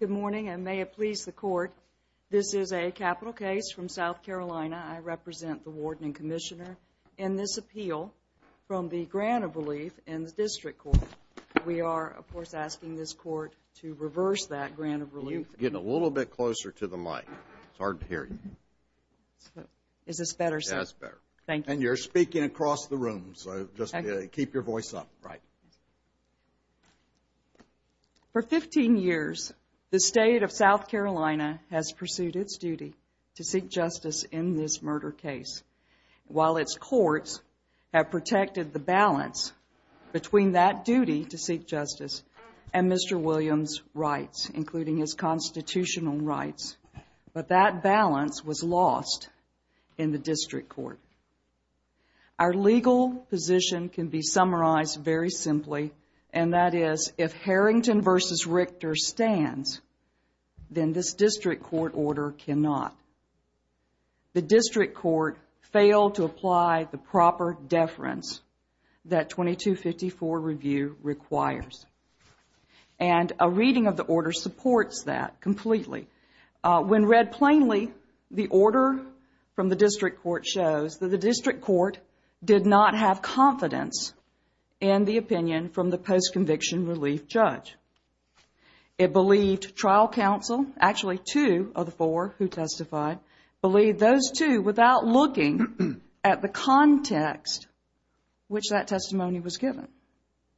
Good morning and may it please the Court, this is a capital case from South Carolina. I represent the Warden and Commissioner in this appeal from the Grant of Relief in the District Court. We are, of course, asking this Court to reverse that Grant of Relief. You need to get a little bit closer to the mic. It's hard to hear you. Is this better? Yes, it's better. Thank you. And you're speaking across the room, so just keep your voice up. For 15 years, the State of South Carolina has pursued its duty to seek justice in this murder case, while its courts have protected the balance between that duty to seek justice and Mr. Williams' rights, including his constitutional rights, but that balance was lost in the District Court. Our legal position can be summarized very simply, and that is, if Harrington v. Richter stands, then this District Court order cannot. The District Court failed to apply the proper deference that 2254 review requires. And a reading of the order supports that completely. When read plainly, the order from the District Court shows that the District Court did not have confidence in the opinion from the post-conviction relief judge. It believed trial counsel, actually two of the four who testified, believed those two without looking at the context which that testimony was given.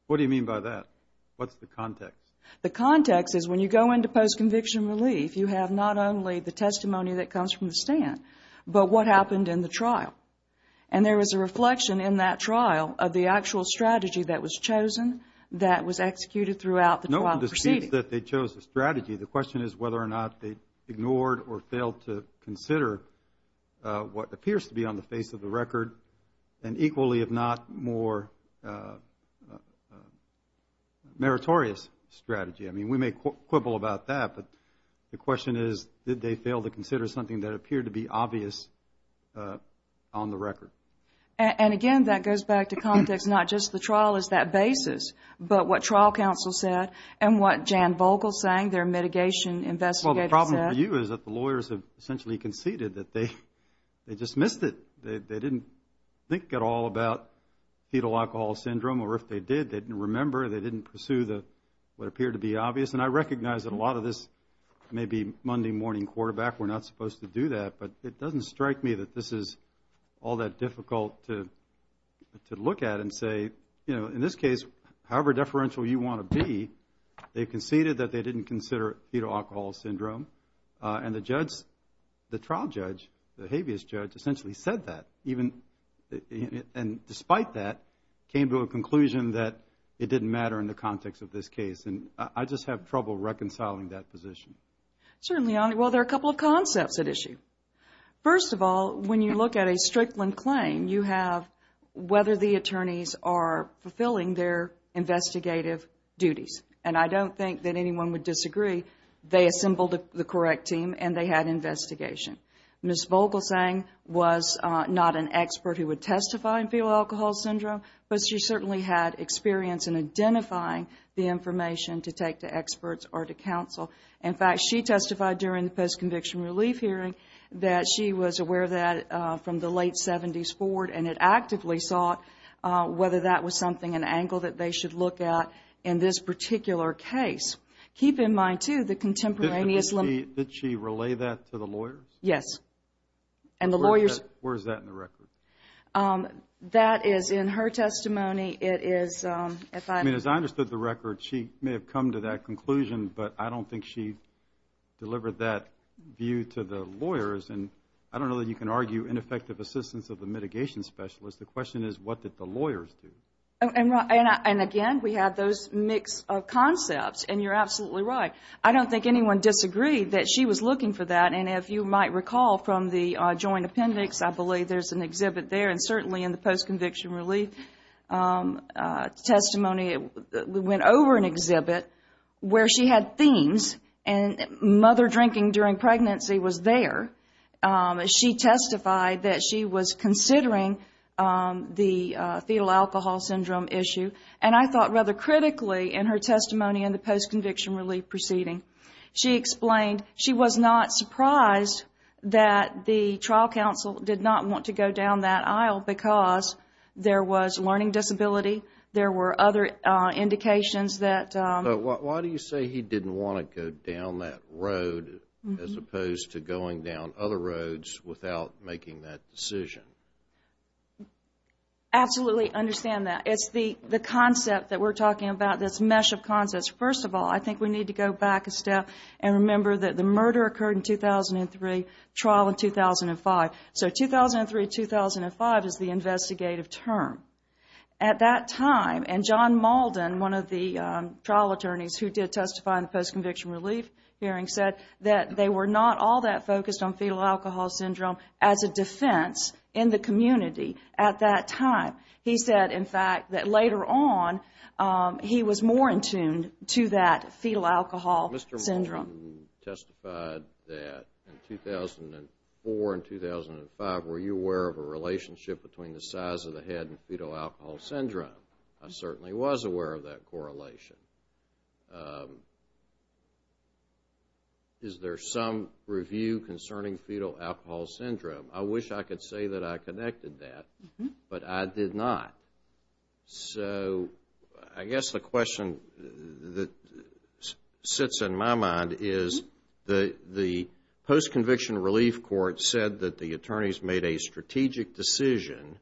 What do you mean by that? What's the context? The context is when you go into post-conviction relief, you have not only the testimony that comes from the stand, but what happened in the trial. And there is a reflection in that trial of the actual strategy that was chosen, that was executed throughout the trial proceeding. No one disputes that they chose the strategy. The question is whether or not they ignored or failed to consider what appears to be on the face of the record, an equally, if not more, meritorious strategy. I mean, we may quibble about that, but the question is, did they fail to consider something that appeared to be obvious on the record? And again, that goes back to context, not just the trial as that basis, but what trial counsel said and what Jan Vogel saying, their mitigation investigator said. Well, the problem for you is that the lawyers have essentially conceded that they dismissed it. They didn't think at all about fetal alcohol syndrome, or if they did, they didn't remember, they didn't pursue what appeared to be obvious. And I recognize that a lot of this may be Monday morning quarterback, we're not supposed to do that, but it doesn't strike me that this is all that difficult to look at and say, you know, in this case, however deferential you want to be, they conceded that they didn't consider fetal alcohol syndrome. And the judge, the trial judge, the habeas judge, essentially said that, even, and despite that, came to a conclusion that it didn't matter in the context of this case. And I just have trouble reconciling that position. Certainly, well, there are a couple of concepts at issue. First of all, when you look at a Strickland claim, you have whether the attorneys are fulfilling their investigative duties. And I don't think that anyone would disagree. They assembled the correct team and they had an investigation. Ms. Vogelsang was not an expert who would testify on fetal alcohol syndrome, but she certainly had experience in identifying the information to take to experts or to counsel. In fact, she testified during the post-conviction relief hearing that she was aware of that from the late 70s forward and had actively sought whether that was something, an angle that they should look at in this particular case. Keep in mind, too, the contemporaneous... Did she relay that to the lawyers? Yes. And the lawyers... Where is that in the record? That is in her testimony. It is, if I... I mean, as I understood the record, she may have come to that conclusion, but I don't think she delivered that view to the lawyers. And I don't know that you can argue ineffective assistance of the mitigation specialist. The question is, what did the lawyers do? And again, we have those mixed concepts, and you're absolutely right. I don't think anyone disagreed that she was looking for that, and if you might recall from the joint appendix, I believe there's an exhibit there, and certainly in the post-conviction relief testimony, we went over an exhibit where she had themes, and mother drinking during pregnancy was there. She testified that she was considering the fetal alcohol syndrome issue, and I thought rather critically in her testimony in the post-conviction relief proceeding. She explained she was not surprised that the trial counsel did not want to go down that aisle because there was learning disability, there were other indications that... Why do you say he didn't want to go down that road as opposed to going down other roads without making that decision? Absolutely understand that. It's the concept that we're talking about, this mesh of concepts. First of all, I think we need to go back a step and remember that the murder occurred in 2003, trial in 2005. So 2003-2005 is the investigative term. At that time, and John Maldon, one of the trial attorneys who did testify in the post-conviction relief hearing, said that they were not all that focused on fetal alcohol syndrome as a defense in the community at that time. He said, in fact, that later on, he was more in tune to that fetal alcohol syndrome. Mr. Maldon testified that in 2004 and 2005, were you aware of a relationship between the size of the head and fetal alcohol syndrome? I certainly was aware of that correlation. Is there some review concerning fetal alcohol syndrome? I wish I could say that I connected that, but I did not. So I guess the question that sits in my mind is the post-conviction relief court said that the attorneys made a strategic decision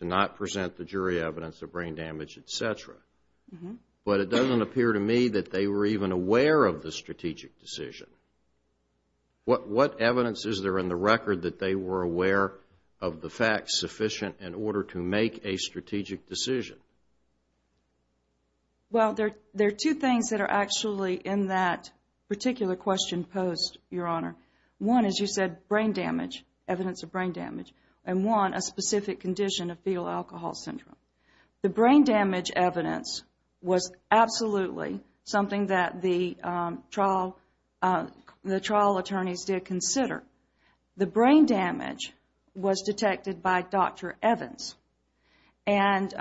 to not present the jury evidence of brain damage, etc. But it doesn't appear to me that they were even aware of the strategic decision. What evidence is there in the record that they were aware of the facts sufficient in order to make a strategic decision? Well, there are two things that are actually in that particular question post, Your Honor. One, as you said, brain damage, evidence of brain damage. And one, a specific condition of fetal alcohol syndrome. The brain damage evidence was absolutely something that the trial attorneys did consider. The brain damage was detected by Dr. Evans. And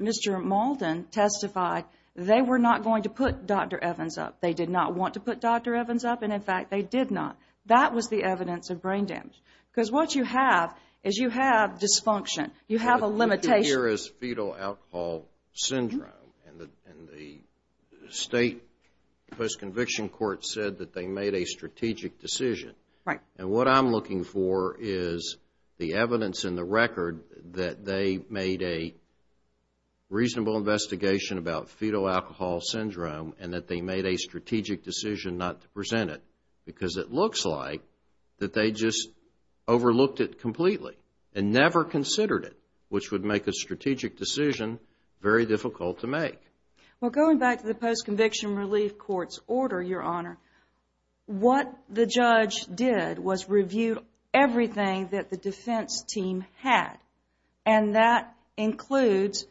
Mr. Malden testified that they were not going to put Dr. Evans up. They did not want to put Dr. Evans up, and in fact, they did not. That was the evidence of brain damage. Because what you have is you have dysfunction. You have a limitation. What you hear is fetal alcohol syndrome. And the state post-conviction court said that they made a strategic decision. Right. And what I'm looking for is the evidence in the record that they made a reasonable investigation about fetal alcohol syndrome and that they made a strategic decision not to present it. Because it looks like that they just overlooked it completely and never considered it, which would make a strategic decision very difficult to make. Well, going back to the post-conviction relief court's order, Your Honor, what the judge did was review everything that the defense team had. And that includes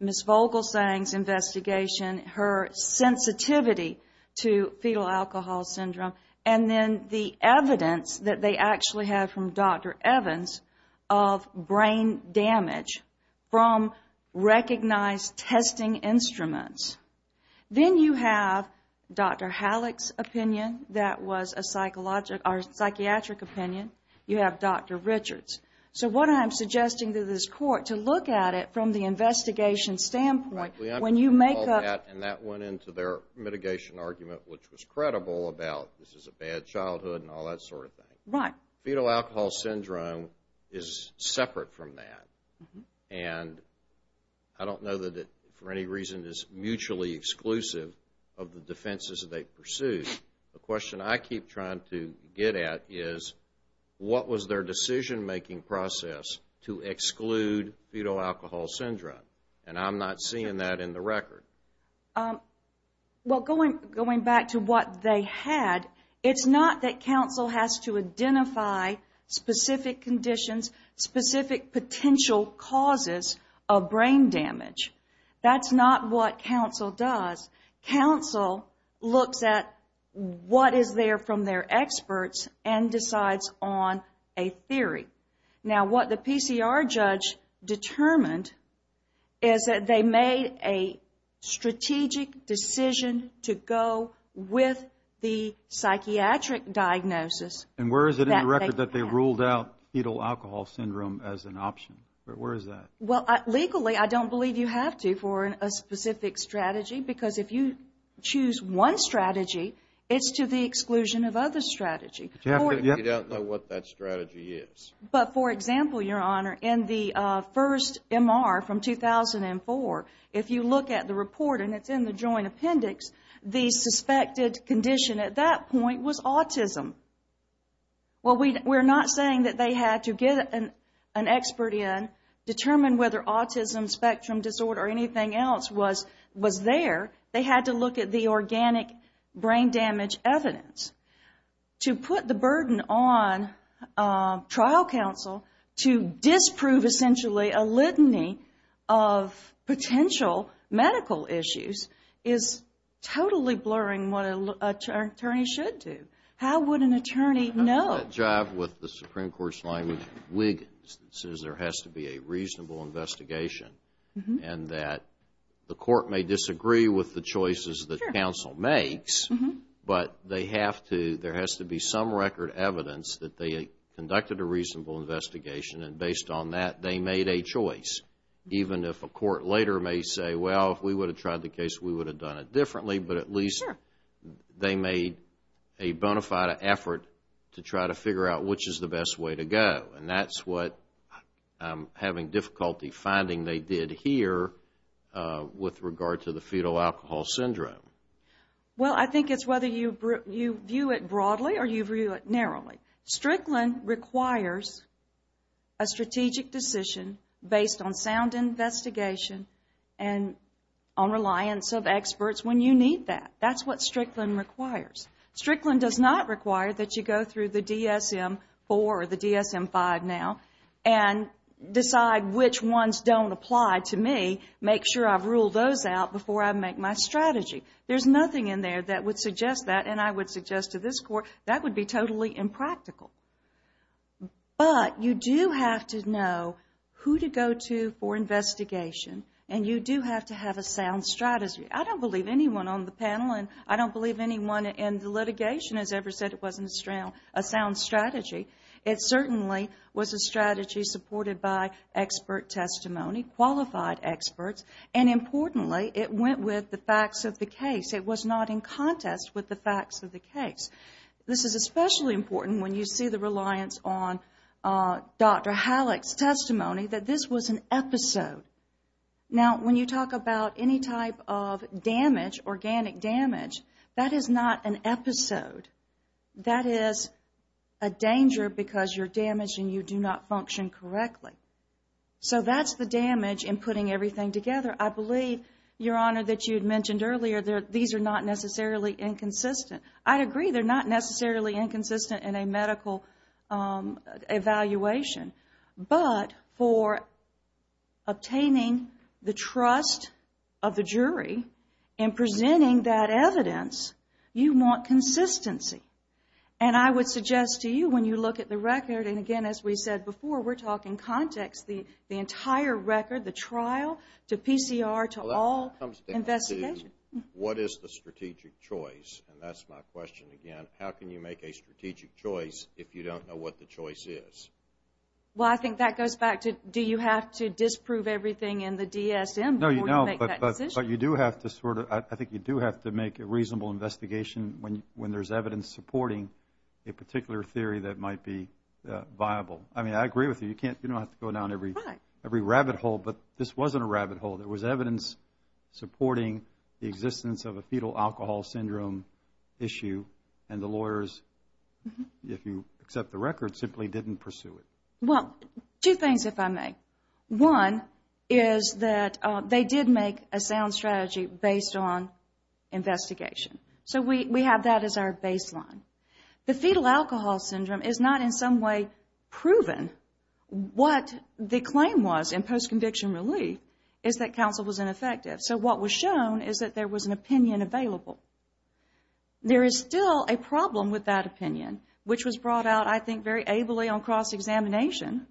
Ms. Vogelsang's investigation, her sensitivity to fetal alcohol syndrome, and then the evidence that they actually have from Dr. Evans of brain damage from recognized testing instruments. Then you have Dr. Halleck's opinion that was a psychiatric opinion. You have Dr. Richards. So what I'm suggesting to this court, to look at it from the investigation standpoint, when you make up... And that went into their mitigation argument, which was credible, about this is a bad childhood and all that sort of thing. Right. Fetal alcohol syndrome is separate from that. And I don't know that it, for any reason, is mutually exclusive of the defenses that they pursued. The question I keep trying to get at is, what was their decision-making process to exclude fetal alcohol syndrome? And I'm not seeing that in the record. Well, going back to what they had, it's not that counsel has to identify specific conditions, specific potential causes of brain damage. That's not what counsel does. Counsel looks at what is there from their experts and decides on a theory. Now, what the PCR judge determined is that they made a strategic decision to go with the psychiatric diagnosis. And where is it in the record that they ruled out fetal alcohol syndrome as an option? Where is that? Well, legally, I don't believe you have to for a specific strategy, because if you choose one strategy, it's to the exclusion of other strategies. You don't know what that strategy is. But, for example, Your Honor, in the first MR from 2004, if you look at the report and it's in the joint appendix, the suspected condition at that point was autism. Well, we're not saying that they had to get an expert in, determine whether autism, spectrum disorder, or anything else was there. They had to look at the organic brain damage evidence. To put the burden on trial counsel to disprove, essentially, a litany of potential medical issues is totally blurring what an attorney should do. How would an attorney know? The job with the Supreme Court's line of wiggins says there has to be a reasonable investigation, and that the court may disagree with the choices that counsel makes, but they have to, there has to be some record evidence that they conducted a reasonable investigation, and based on that, they made a choice. Even if a court later may say, well, if we would have tried the case, we would have done it differently, but at least they made a bona fide effort to try to figure out which is the best way to go, and that's what I'm having difficulty finding they did here with regard to the fetal alcohol syndrome. Well, I think it's whether you view it broadly or you view it narrowly. Strickland requires a strategic decision based on sound investigation and on reliance of experts when you need that. That's what Strickland requires. Strickland does not require that you go through the DSM-IV or the DSM-V now and decide which ones don't apply to me, make sure I've ruled those out before I make my strategy. There's nothing in there that would suggest that, and I would suggest to this court that would be totally impractical. But you do have to know who to go to for investigation, and you do have to have a sound strategy. I don't believe anyone on the panel, and I don't believe anyone in the litigation has ever said it wasn't a sound strategy. It certainly was a strategy supported by expert testimony, qualified experts, and importantly, it went with the facts of the case. It was not in contest with the facts of the case. This is especially important when you see the reliance on Dr. Halleck's testimony, that this was an episode. Now, when you talk about any type of damage, organic damage, that is not an episode. That is a danger because you're damaged and you do not function correctly. So that's the damage in putting everything together. I believe, Your Honor, that you had mentioned earlier that these are not necessarily inconsistent. I agree they're not necessarily inconsistent in a medical evaluation, but for obtaining the trust of the jury in presenting that evidence, you want consistency. And I would suggest to you when you look at the record, and again, as we said before, we're talking context, the entire record, the trial, to PCR, to all investigations. What is the strategic choice? And that's my question again. How can you make a strategic choice if you don't know what the choice is? Well, I think that goes back to, do you have to disprove everything in the DSM before you make that decision? No, but you do have to sort of, I think you do have to make a reasonable investigation when there's evidence supporting a particular theory that might be viable. I mean, I agree with you, you don't have to go down every rabbit hole, but this wasn't a rabbit hole. There was evidence supporting the existence of a fetal alcohol syndrome issue, and the lawyers, if you accept the record, simply didn't pursue it. Well, two things if I may. One is that they did make a sound strategy based on investigation. So we have that as our baseline. The fetal alcohol syndrome is not in some way proven. What the claim was in post-conviction relief is that counsel was ineffective. So what was shown is that there was an opinion available. There is still a problem with that opinion, which was brought out, I think, very ably on cross-examination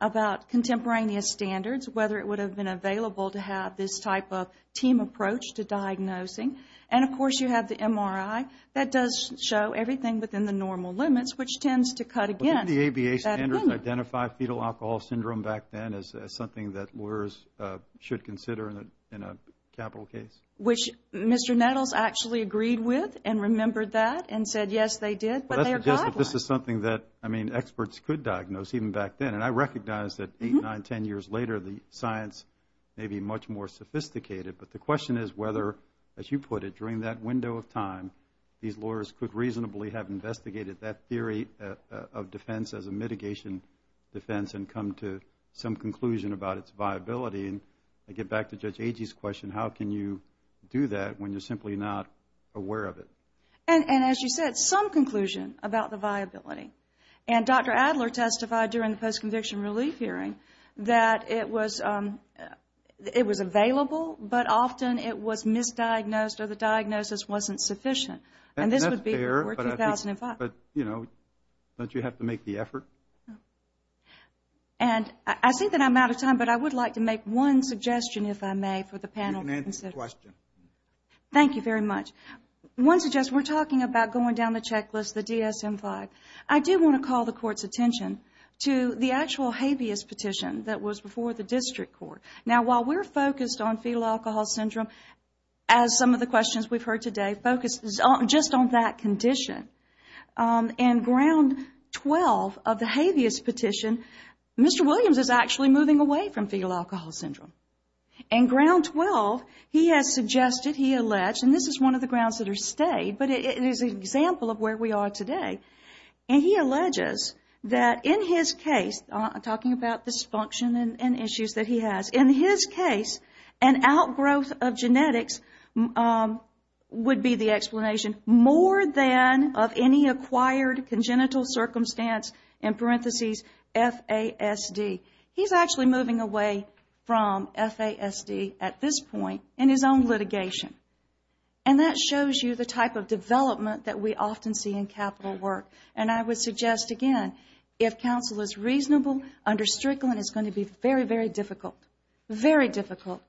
about contemporaneous standards, whether it would have been available to have this type of team approach to diagnosing. And, of course, you have the MRI that does show everything within the normal limits, which tends to cut, again, that limit. But didn't the ABA standards identify fetal alcohol syndrome back then as something that lawyers should consider in a capital case? Which Mr. Nettles actually agreed with and remembered that and said, yes, they did, but they have got one. But this is something that, I mean, experts could diagnose even back then. And I recognize that eight, nine, ten years later, the science may be much more sophisticated. But the question is whether, as you put it, during that window of time, these lawyers could reasonably have investigated that theory of defense as a mitigation defense and come to some conclusion about its viability. And I get back to Judge Agee's question, how can you do that when you are simply not aware of it? And, as you said, some conclusion about the viability. And Dr. Adler testified during the post-conviction relief hearing that it was available, but often it was misdiagnosed or the diagnosis wasn't sufficient. And this would be before 2005. But, you know, don't you have to make the effort? And I think that I am out of time, but I would like to make one suggestion, if I may, for the panel. You can answer the question. Thank you very much. One suggestion, we are talking about going down the checklist, the DSM-5. I do want to call the Court's attention to the actual habeas petition that was before the District Court. Now, while we are focused on fetal alcohol syndrome as some of the questions we've heard today focus just on that condition, in Ground 12 of the habeas petition, Mr. Williams is actually moving away from fetal alcohol syndrome. In Ground 12, he has suggested, he alleged, and this is one of the grounds that are stayed, but it is an example of where we are today. And he alleges that in his case, talking about dysfunction and issues that he has, in his case, an outgrowth of genetics would be the explanation, more than of any acquired congenital circumstance, in parentheses, FASD. He's actually moving away from FASD at this point in his own litigation. And that shows you the type of development that we often see in capital work. And I would suggest, again, if counsel is reasonable, under Strickland, it's going to be very, very difficult, very difficult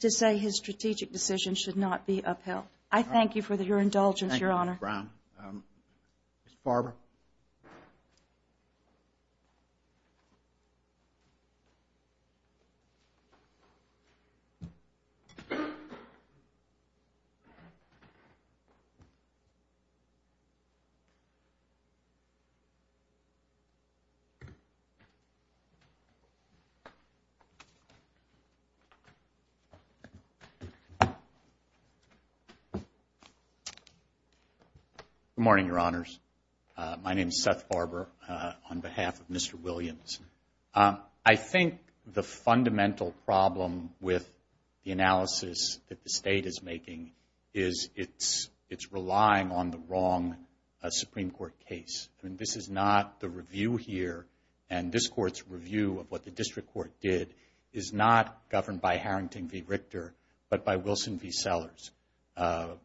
to say his strategic decision should not be upheld. I thank you for your indulgence, Your Honor. Thank you, Ms. Brown. Ms. Barber? Good morning, Your Honors. My name is Seth Barber, on behalf of Mr. Williams. I think the fundamental problem with the analysis that the state is making is it's relying on the wrong Supreme Court case. I mean, this is not the review here, It's relying on the wrong Supreme Court case. The Supreme Court's review of what the district court did is not governed by Harrington v. Richter, but by Wilson v. Sellers,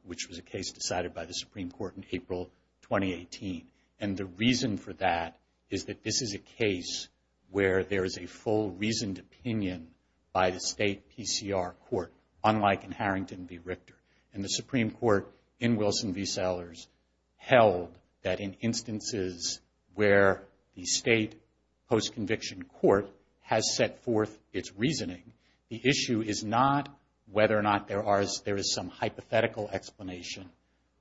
which was a case decided by the Supreme Court in April 2018. And the reason for that is that this is a case where there is a full reasoned opinion by the state PCR court, unlike in Harrington v. Richter. And the Supreme Court, in Wilson v. Sellers, held that in instances where the state post-conviction court has set forth its reasoning, the issue is not whether or not there is some hypothetical explanation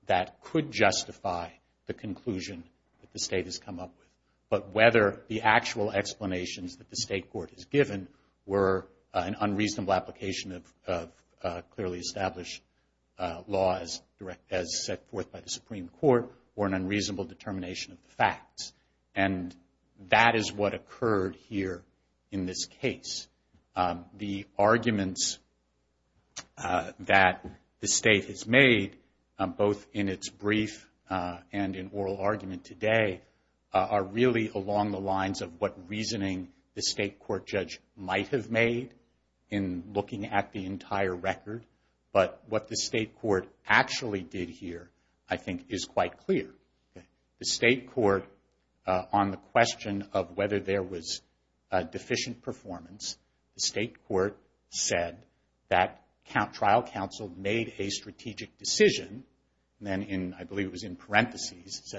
that could justify the conclusion that the state has come up with, but whether the actual explanations that the state court has given were an unreasonable application of clearly established laws as set forth by the Supreme Court or an unreasonable determination of the facts. And that is what occurred here in this case. The arguments that the state has made, both in its brief and in oral argument today, are really along the lines of what reasoning the state court judge might have made in looking at the entire record, but what the state court actually did here, I think, is quite clear. The state court, on the question of whether there was deficient performance, the state court said that trial counsel made a strategic decision, and I believe it was in parentheses,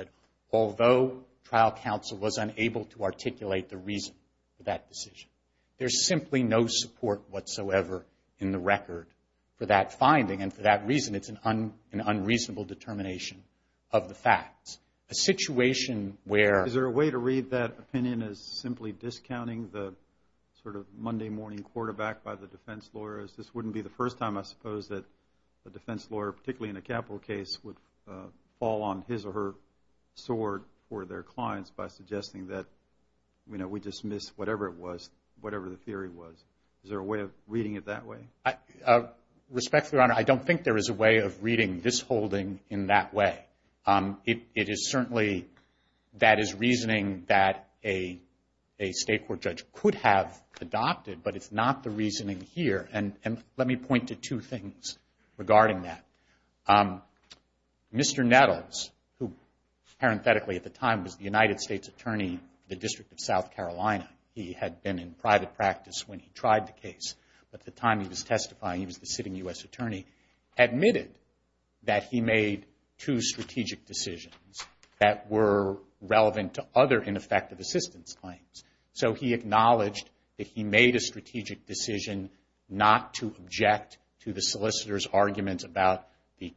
although trial counsel was unable to articulate the reason for that decision, there's simply no support whatsoever in the record for that finding and for that reason, it's an unreasonable determination of the facts. A situation where... Is there a way to read that opinion as simply discounting the sort of Monday morning quarterback by the defense lawyers? This wouldn't be the first time, I suppose, that a defense lawyer, particularly in a capital case, would fall on his or her sword for their clients by suggesting that we dismiss whatever it was, whatever the theory was. Is there a way of reading it that way? Respectfully, Your Honor, I don't think there is a way of reading this holding in that way. It is certainly... That is reasoning that a state court judge could have adopted, but it's not the reasoning here, and let me point to two things regarding that. Mr. Nettles, who, parenthetically at the time, was the United States Attorney for the District of South Carolina, he had been in private practice when he tried the case, but at the time he was testifying, he was the sitting U.S. Attorney, admitted that he made two strategic decisions that were relevant to other ineffective assistance claims. So he acknowledged that he made a strategic decision not to object to the solicitor's arguments about the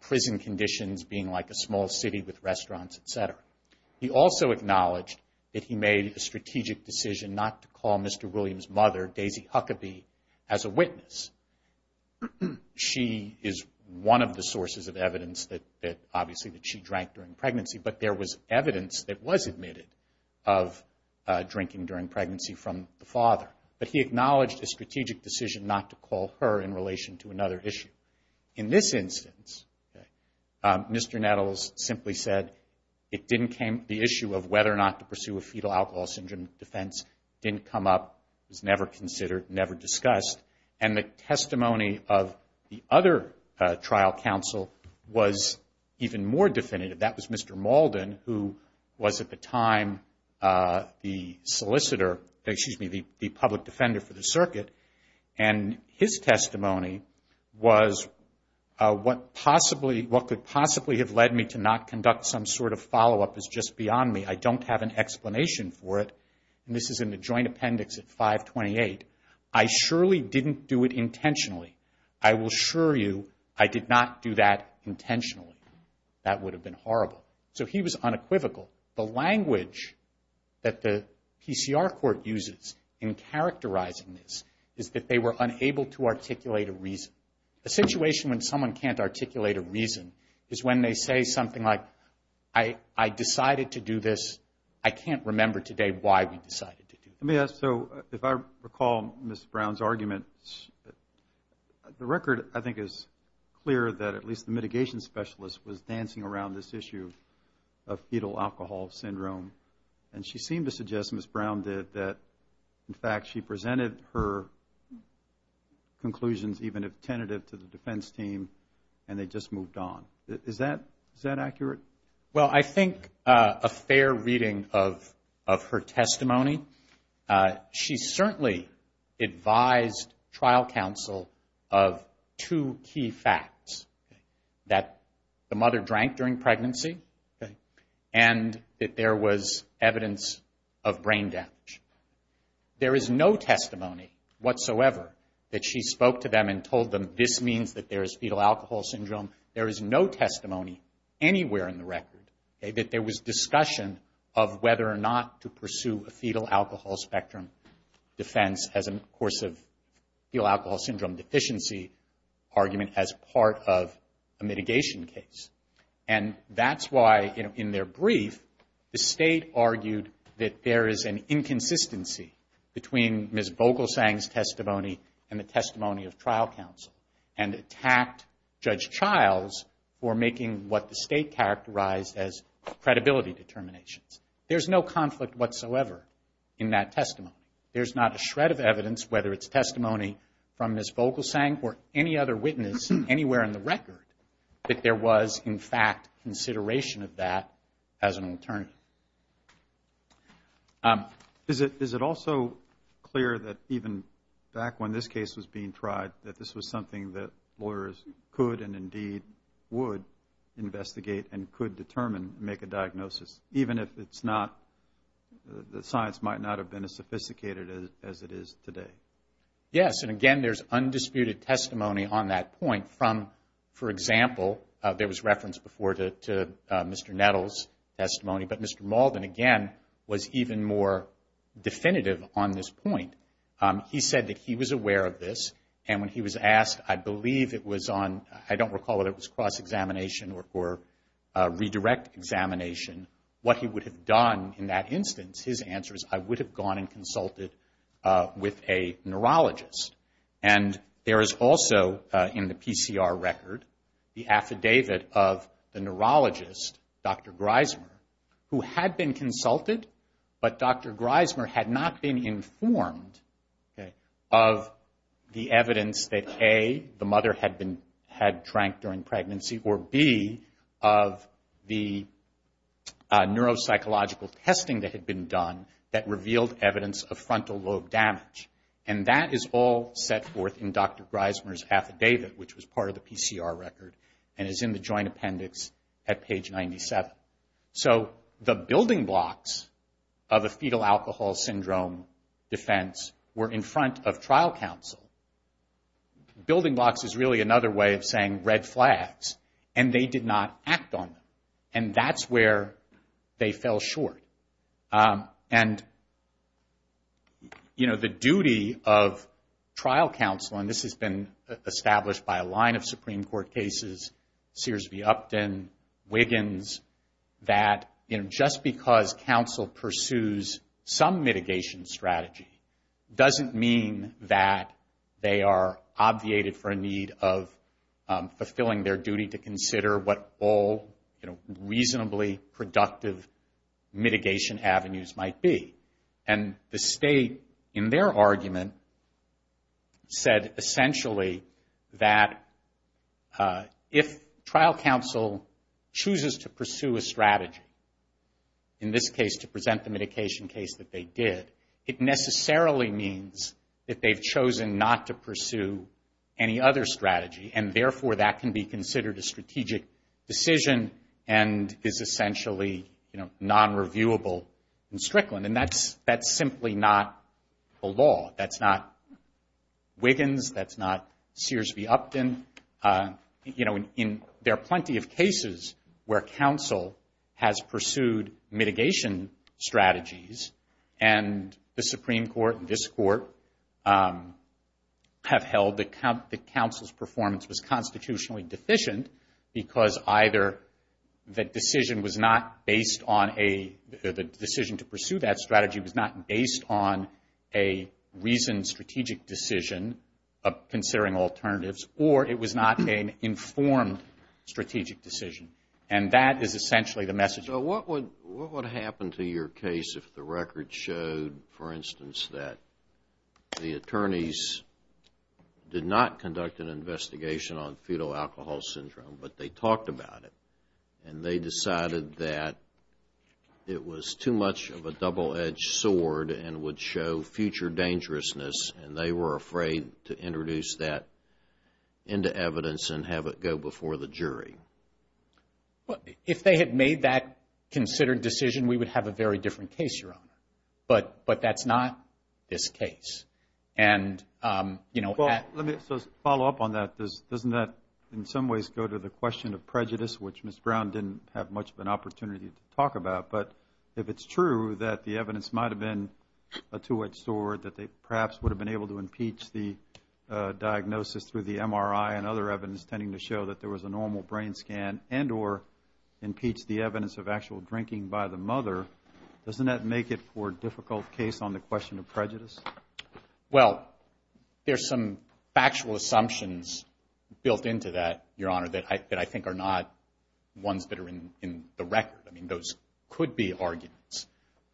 prison conditions being like a small city with restaurants, etc. He also acknowledged that he made a strategic decision not to call Mr. Williams' mother, Daisy Huckabee, as a witness. She is one of the sources of evidence that, obviously, that she drank during pregnancy, but there was evidence that was admitted of drinking during pregnancy from the father. But he acknowledged the strategic decision not to call her in relation to another issue. In this instance, Mr. Nettles simply said it didn't come to the issue of whether or not to pursue a fetal alcohol syndrome defense. It didn't come up, it was never considered, never discussed. And the testimony of the other trial counsel was even more definitive. That was Mr. Mauldin, who was, at the time, the public defender for the circuit. And his testimony was, what could possibly have led me to not conduct some sort of follow-up is just beyond me. I don't have an explanation for it. And this is in the joint appendix at 528. I surely didn't do it intentionally. I will assure you I did not do that intentionally. That would have been horrible. So he was unequivocal. The language that the PCR court uses in characterizing this is that they were unable to articulate a reason. A situation when someone can't articulate a reason is when they say something like, I decided to do this, I can't remember today why we decided to do it. Let me ask, so if I recall Ms. Brown's argument, the record, I think, is clear that at least the mitigation specialist was dancing around this issue of fetal alcohol syndrome. And she seemed to suggest, Ms. Brown did, that in fact she presented her conclusions even tentative to the defense team and it just moved on. Is that accurate? Well, I think a fair reading of her testimony. She certainly advised trial counsel of two key facts. That the mother drank during pregnancy and that there was evidence of brain damage. There is no testimony whatsoever that she spoke to them and told them this means that there is fetal alcohol syndrome. There is no testimony anywhere in the record that there was discussion of whether or not to pursue a fetal alcohol spectrum defense as a course of fetal alcohol syndrome deficiency argument as part of a mitigation case. And that's why, in their brief, the state argued that there is an inconsistency between Ms. Vogelsang's testimony and the testimony of trial counsel and attacked Judge Childs for making what the state characterized as credibility determinations. There's no conflict whatsoever in that testimony. There's not a shred of evidence, whether it's testimony from Ms. Vogelsang or any other witness anywhere in the record, that there was, in fact, consideration of that as an alternative. Is it also clear that even back when this case was being tried, that this was something that lawyers could and indeed would investigate and could determine, make a diagnosis, even if the science might not have been as sophisticated as it is today? Yes, and again, there's undisputed testimony on that point from, for example, there was reference before to Mr. Nettle's testimony, but Mr. Malden, again, was even more definitive on this point. He said that he was aware of this, and when he was asked, I believe it was on, I don't recall whether it was cross-examination or redirect examination, what he would have done in that instance, his answer is, I would have gone and consulted with a neurologist. And there is also, in the PCR record, the affidavit of the neurologist, Dr. Greismer, who had been consulted, but Dr. Greismer had not been informed of the evidence that A, the mother had been, had drank during pregnancy, or B, of the neuropsychological testing that had been done that revealed evidence of frontal lobe damage. And that is all set forth in Dr. Greismer's affidavit, which was part of the PCR record, and is in the joint appendix at page 97. So the building blocks of a fetal alcohol syndrome defense were in front of trial counsel. Building blocks is really another way of saying red flags, and they did not act on them. And that's where they fell short. And the duty of trial counsel, and this has been established by a line of Supreme Court cases, Sears v. Upton, Wiggins, that just because counsel pursues some mitigation strategy doesn't mean that they are obviated for a need of fulfilling their duty to consider what all reasonably productive mitigation avenues might be. And the state, in their argument, said essentially that if trial counsel chooses to pursue a strategy, in this case to present the mitigation case that they did, it necessarily means that they've chosen not to pursue any other strategy, and therefore that can be considered a strategic decision and is essentially non-reviewable in Strickland. And that's simply not the law. That's not Wiggins. That's not Sears v. Upton. There are plenty of cases where counsel has pursued mitigation strategies, and the Supreme Court and this Court have held that counsel's performance was constitutionally deficient because either the decision to pursue that strategy was not based on a reasoned strategic decision of considering alternatives, or it was not an informed strategic decision. And that is essentially the message. So what would happen to your case if the record showed, for instance, that the attorneys did not conduct an investigation on fetal alcohol syndrome, but they talked about it, and they decided that it was too much of a double-edged sword and would show future dangerousness, and they were afraid to introduce that into evidence and have it go before the jury? If they had made that considered decision, we would have a very different case, Your Honor. But that's not this case. And, you know... Well, let me just follow up on that. Doesn't that in some ways go to the question of prejudice, which Ms. Brown didn't have much of an opportunity to talk about? But if it's true that the evidence might have been a two-edged sword, that they perhaps would have been able to impeach the diagnosis through the MRI and other evidence tending to show that there was a normal brain scan, and or impeach the evidence of actual drinking by the mother, doesn't that make it for a difficult case on the question of prejudice? Well, there's some factual assumptions built into that, Your Honor, that I think are not ones that are in the record. I mean, those could be arguments.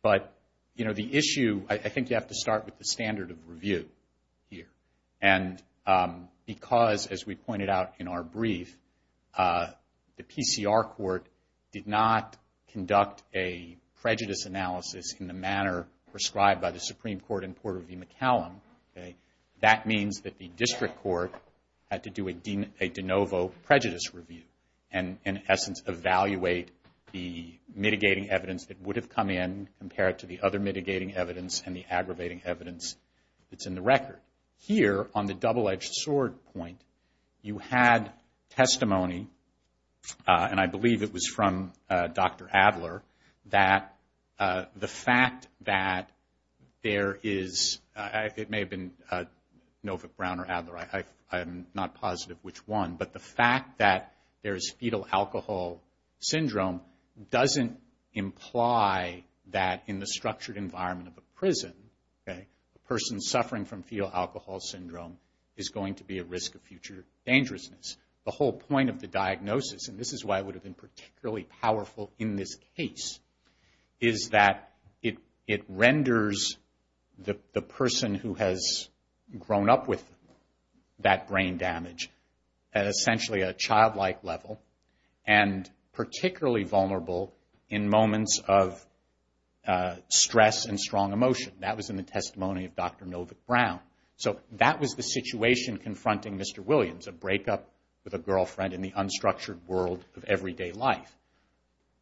But, you know, the issue... I think you have to start with the standard of review here. And because, as we pointed out in our brief, the PCR court did not conduct a prejudice analysis in the manner prescribed by the Supreme Court in Port of McAllen, that means that the district court had to do a de novo prejudice review, and, in essence, evaluate the mitigating evidence that would have come in compared to the other mitigating evidence and the aggravating evidence that's in the record. Here, on the double-edged sword point, you had testimony, and I believe it was from Dr. Adler, that the fact that there is... It may have been Novick, Brown, or Adler. I'm not positive which one. But the fact that there's fetal alcohol syndrome doesn't imply that in the structured environment of a prison, a person suffering from fetal alcohol syndrome is going to be at risk of future dangerousness. The whole point of the diagnosis, and this is why it would have been particularly powerful in this case, is that it renders the person who has grown up with that brain damage at essentially a childlike level, and particularly vulnerable in moments of stress and strong emotion. That was in the testimony of Dr. Novick, Brown. So that was the situation confronting Mr. Williams, a breakup with a girlfriend in the unstructured world of everyday life.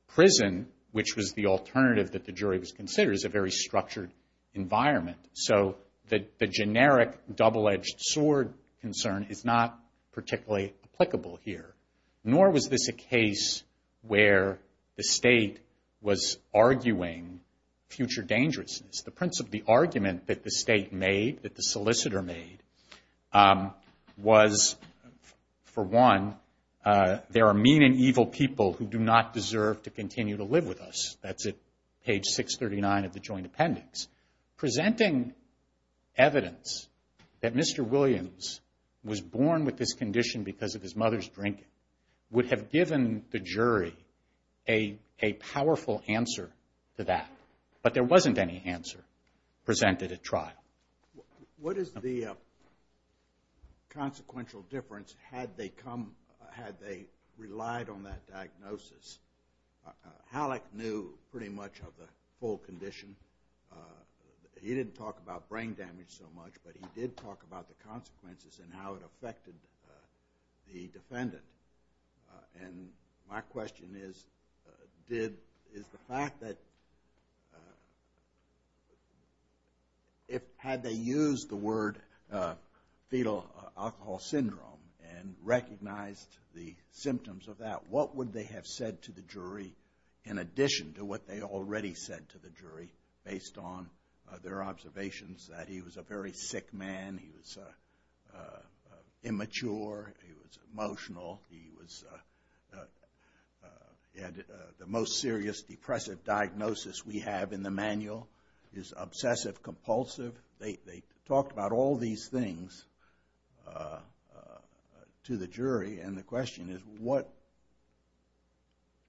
Prison, which was the alternative that the jury was considering, is a very structured environment. So the generic double-edged sword concern is not particularly applicable here. Nor was this a case where the state was arguing future dangerousness. The argument that the state made, that the solicitor made, was for one, there are mean and evil people who do not deserve to continue to live with us. That's at page 639 of the joint appendix. Presenting evidence that Mr. Williams was born with this condition because of his mother's drinking would have given the jury a powerful answer to that. But there wasn't any answer presented at trial. What is the consequential difference had they relied on that diagnosis? Halleck knew pretty much of the full condition. He didn't talk about brain damage so much, but he did talk about the consequences and how it affected the defendant. And my question is, is the fact that had they used the word fetal alcohol syndrome and recognized the symptoms of that, what would they have said to the jury in addition to what they'd already said to the jury based on their observations that he was a very sick man, he was immature, he was emotional, the most serious depressive diagnosis we have in the manual is obsessive-compulsive. They talked about all these things to the jury, and the question is what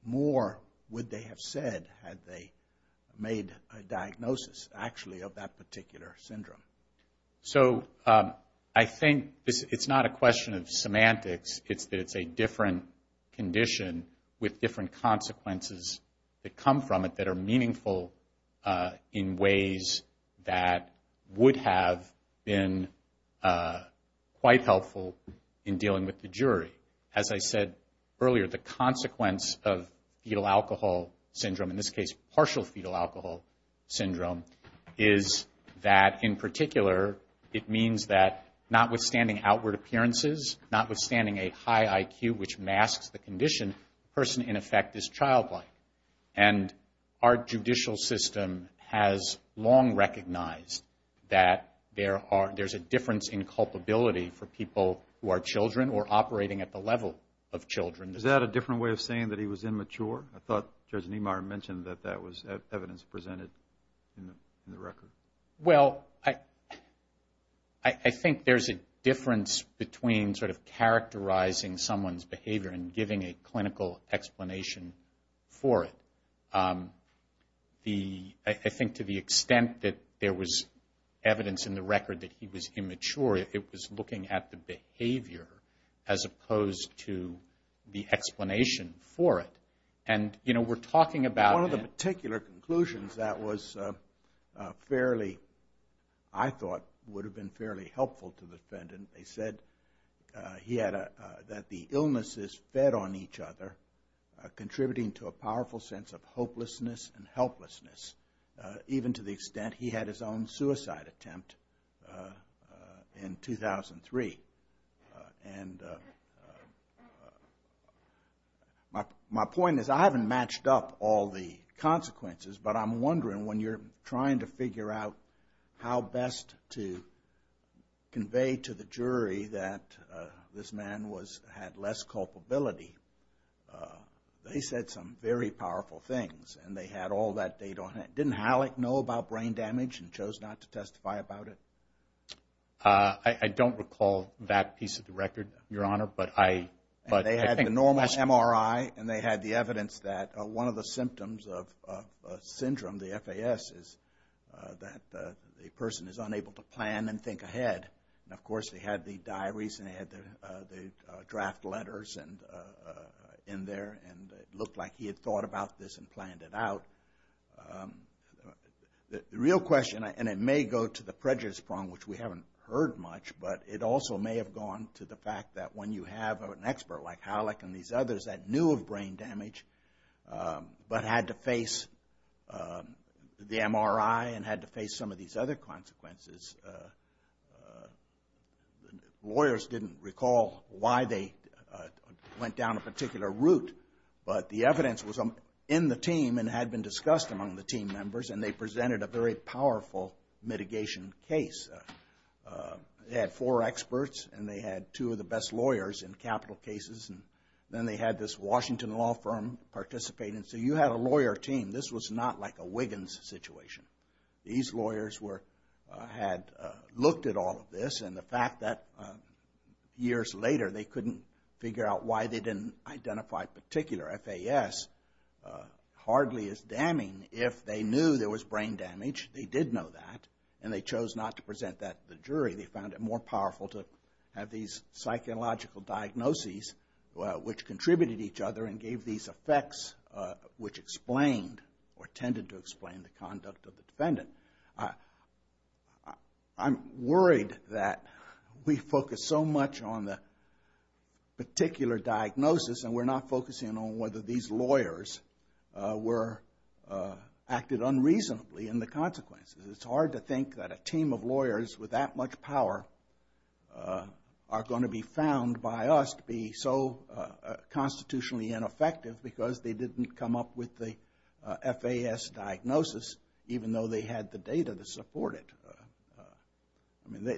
more would they have said had they made a diagnosis actually of that particular syndrome? So I think it's not a question of semantics. It's a different condition with different consequences that come from it that are meaningful in ways that would have been quite helpful in dealing with the jury. As I said earlier, the consequence of fetal alcohol syndrome, in this case partial fetal alcohol syndrome, is that in particular it means that notwithstanding outward appearances, notwithstanding a high IQ which masks the condition, the person in effect is childlike. And our judicial system has long recognized that there's a difference in culpability for people who are children or operating at the level of children. Is that a different way of saying that he was immature? I thought Judge Nemar mentioned that that was evidence presented in the record. Well, I think there's a difference between sort of characterizing someone's behavior and giving a clinical explanation for it. I think to the extent that there was evidence in the record that he was immature, it was looking at the behavior as opposed to the explanation for it. And, you know, we're talking about... One of the particular conclusions that was fairly, I thought would have been fairly helpful to the defendant, they said that the illnesses fed on each other are contributing to a powerful sense of hopelessness and helplessness, even to the extent he had his own suicide attempt in 2003. And my point is I haven't matched up all the consequences, but I'm wondering when you're trying to figure out how best to convey to the jury that this man had less culpability, they said some very powerful things, and they had all that data on it. Didn't Halleck know about brain damage and chose not to testify about it? I don't recall that piece of the record, Your Honor, but I... They had the normal MRI and they had the evidence that one of the symptoms of syndrome, the FAS, is that a person is unable to plan and think ahead. And, of course, they had the diaries and they had the draft letters in there and it looked like he had thought about this and planned it out. The real question, and it may go to the prejudice prong, which we haven't heard much, but it also may have gone to the fact that when you have an expert like Halleck and these others that knew of brain damage but had to face the MRI and had to face some of these other consequences, lawyers didn't recall why they went down a particular route, but the evidence was in the team and had been discussed among the team members and they presented a very powerful mitigation case. They had four experts and they had two of the best lawyers in capital cases and then they had this Washington law firm participate and say, you have a lawyer team. This was not like a Wiggins situation. These lawyers had looked at all of this and the fact that years later they couldn't figure out why they didn't identify particular FAS hardly is damning. If they knew there was brain damage, they did know that, and they chose not to present that to the jury. They found it more powerful to have these psychological diagnoses which contributed to each other and gave these effects I'm worried that we focus so much on the particular diagnosis and we're not focusing on whether these lawyers were acting unreasonably in the consequences. It's hard to think that a team of lawyers with that much power are going to be found by us to be so constitutionally ineffective because they didn't come up with the FAS diagnosis even though they had the data to support it.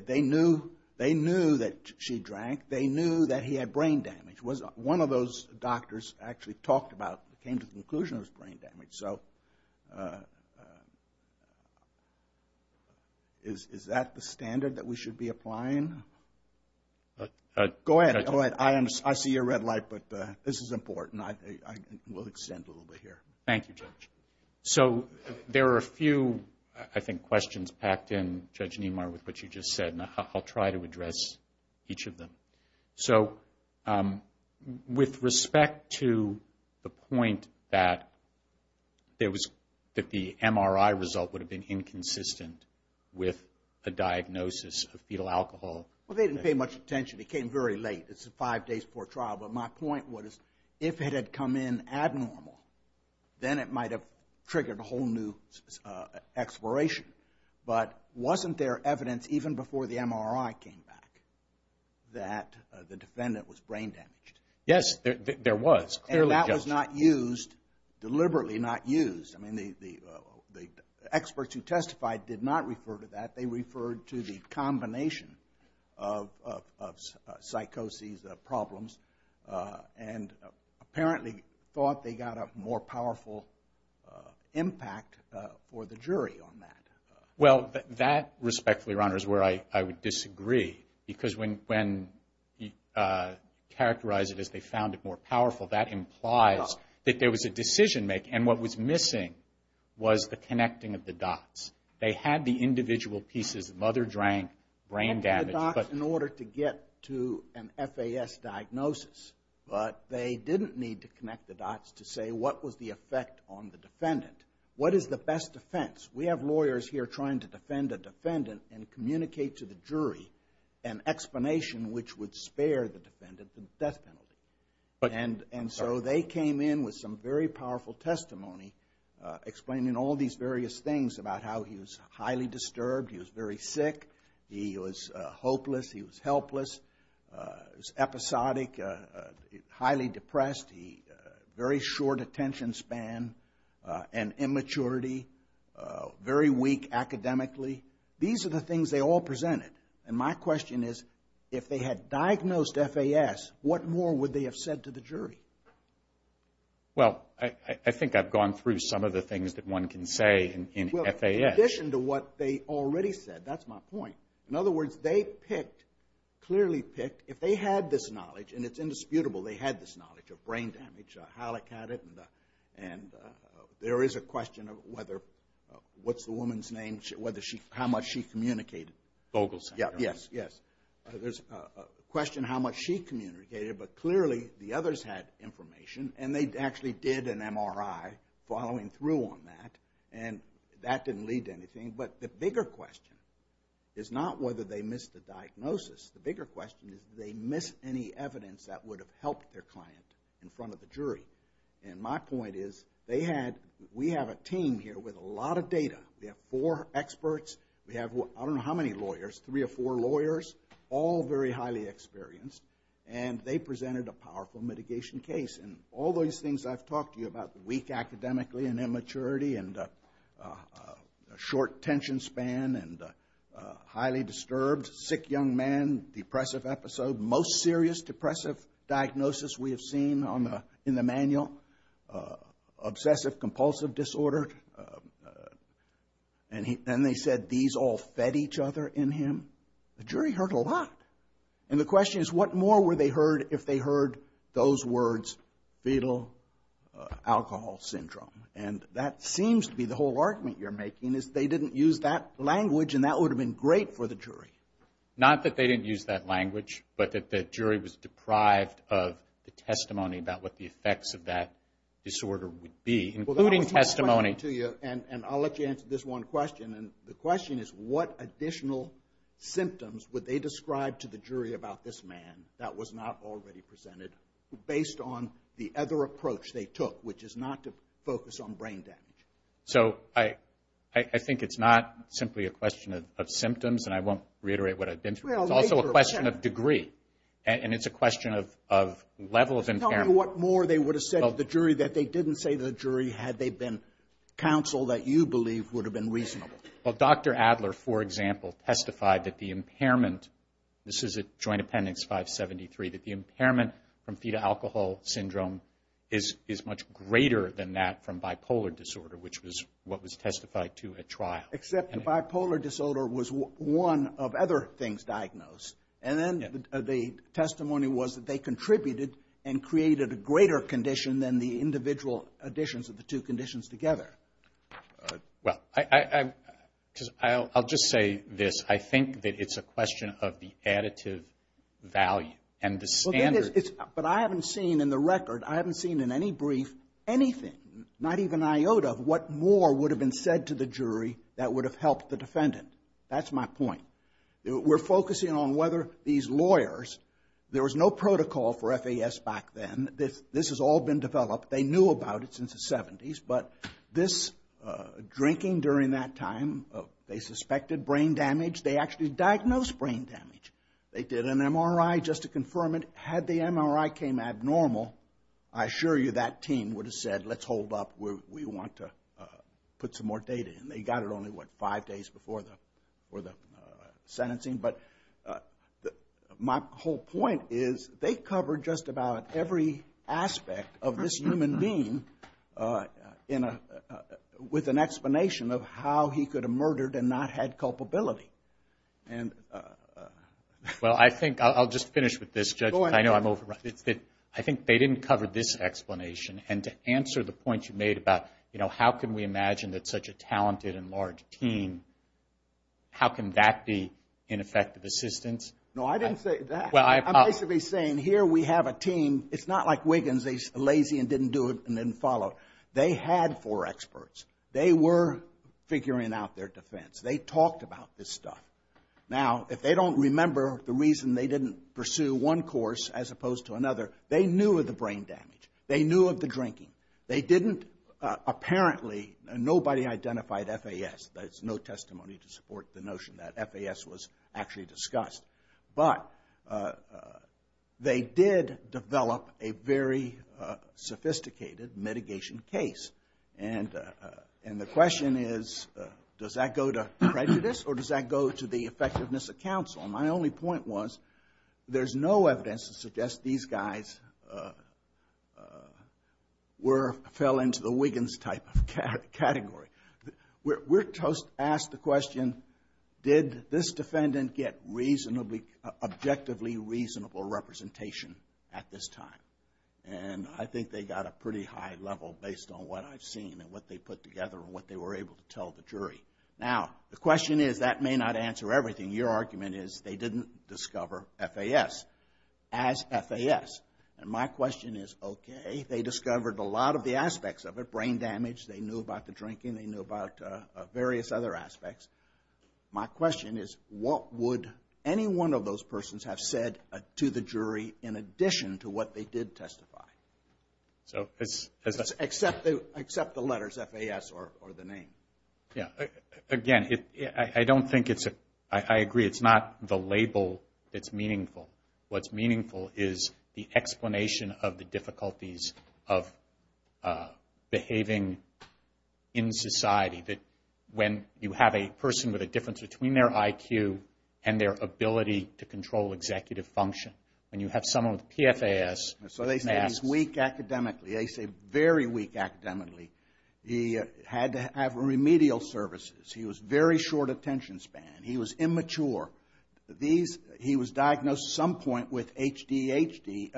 They knew that she drank. They knew that he had brain damage. One of those doctors actually talked about, came to the conclusion it was brain damage. Is that the standard that we should be applying? Go ahead. I see your red light, but this is important. We'll extend a little bit here. Thank you, Judge. There are a few, I think, questions packed in, Judge Niemeyer, with what you just said, and I'll try to address each of them. With respect to the point that the MRI result would have been inconsistent with a diagnosis of fetal alcohol... They didn't pay much attention. It came very late. This is five days before trial. But my point was, if it had come in abnormal, then it might have triggered a whole new exploration. But wasn't there evidence, even before the MRI came back, that the defendant was brain damaged? Yes, there was. And that was not used, deliberately not used. The experts who testified did not refer to that. They referred to the combination of psychoses, the problems, and apparently thought they got a more powerful impact for the jury on that. Well, that, respectfully, Your Honor, is where I would disagree, because when you characterize it as they found it more powerful, that implies that there was a decision made, and what was missing was the connecting of the dots. They had the individual pieces of mother drank, brain damage... They had dots in order to get to an FAS diagnosis, but they didn't need to connect the dots to say, what was the effect on the defendant? What is the best defense? We have lawyers here trying to defend a defendant and communicate to the jury an explanation which would spare the defendant the death penalty. And so they came in with some very powerful testimony, explaining all these various things about how he was highly disturbed, he was very sick, he was hopeless, he was helpless, episodic, highly depressed, very short attention span, and immaturity, very weak academically. These are the things they all presented. And my question is, if they had diagnosed FAS, what more would they have said to the jury? Well, I think I've gone through some of the things that one can say in FAS. Well, in addition to what they already said, that's my point. In other words, they picked, clearly picked, if they had this knowledge, and it's indisputable, they had this knowledge of brain damage, Halleck had it, and there is a question of whether, what's the woman's name, how much she communicated. Vogel Center. Yes, yes. There's a question of how much she communicated, but clearly the others had information, and they actually did an MRI following through on that, and that didn't lead to anything. But the bigger question is not whether they missed the diagnosis. The bigger question is did they miss any evidence that would have helped their client in front of the jury. And my point is, we have a team here with a lot of data. We have four experts, we have I don't know how many lawyers, three or four lawyers, all very highly experienced, and they presented a powerful mitigation case. And all those things I've talked to you about, weak academically and immaturity and short tension span and highly disturbed, sick young man, depressive episode, most serious depressive diagnosis we have seen in the manual, obsessive compulsive disorder, and then they said these all fed each other in him. The jury heard a lot. And the question is what more were they heard if they heard those words fetal alcohol syndrome. And that seems to be the whole argument you're making is they didn't use that language, and that would have been great for the jury. Not that they didn't use that language, but that the jury was deprived of the testimony about what the effects of that disorder would be, including testimony... And I'll let you answer this one question, and the question is what additional symptoms would they describe to the jury about this man that was not already presented based on the other approach they took, which is not to focus on brain damage. So I think it's not simply a question of symptoms, and I won't reiterate what I've been through. It's also a question of degree, and it's a question of level of impairment. Tell me what more they would have said to the jury that they didn't say to the jury had they been counseled that you believe would have been reasonable. Well, Dr. Adler, for example, testified that the impairment... This is at Joint Appendix 573, that the impairment from fetal alcohol syndrome is much greater than that from bipolar disorder, which was what was testified to at trial. Except the bipolar disorder was one of other things diagnosed, and then the testimony was that they contributed and created a greater condition than the individual additions of the two conditions together. Well, I'll just say this. I think that it's a question of the additive value and the standard... But I haven't seen in the record, I haven't seen in any brief, anything, not even iota, what more would have been said to the jury that would have helped the defendant. That's my point. We're focusing on whether these lawyers... There was no protocol for FAS back then. This has all been developed. They knew about it since the 70s, but drinking during that time, they suspected brain damage. They actually diagnosed brain damage. They did an MRI just to confirm it. Had the MRI came abnormal, I assure you that team would have said, let's hold up, we want to put some more data in. They got it only, what, five days before the sentencing. But my whole point is, they covered just about every aspect of this human being with an explanation of how he could have murdered and not had culpability. Well, I think I'll just finish with this, Judge. I know I'm overrun. I think they didn't cover this explanation. And to answer the point you made about, how can we imagine that such a talented and large team, how can that be ineffective assistance? No, I didn't say that. I'm basically saying, here we have a team. It's not like Wiggins. They're lazy and didn't do it and didn't follow. They had four experts. They were figuring out their defense. They talked about this stuff. Now, if they don't remember the reason they didn't pursue one course as opposed to another, they knew of the brain damage. They knew of the drinking. They didn't, apparently, nobody identified FAS. There's no testimony to support the notion that FAS was actually discussed. But they did develop a very sophisticated mitigation case. And the question is, does that go to prejudice or does that go to the effectiveness of counsel? My only point was, there's no evidence to suggest these guys fell into the Wiggins-type category. We're asked the question, did this defendant get objectively reasonable representation at this time? And I think they got a pretty high level based on what I've seen and what they put together and what they were able to tell the jury. Now, the question is, that may not answer everything. Your argument is, they didn't discover FAS as FAS. And my question is, okay, they discovered a lot of the aspects of it, brain damage. They knew about the drinking. They knew about various other aspects. My question is, what would any one of those persons have said to the jury in addition to what they did testify? Except the letters FAS or the name. Again, I agree, it's not the label that's meaningful. What's meaningful is the explanation of the difficulties of behaving in society. When you have a person with a difference between their IQ and their ability to control executive function. When you have someone with PFAS... So they say he's weak academically. They say very weak academically. He had to have remedial services. He was very short attention span. He was immature. He was diagnosed at some point with ADHD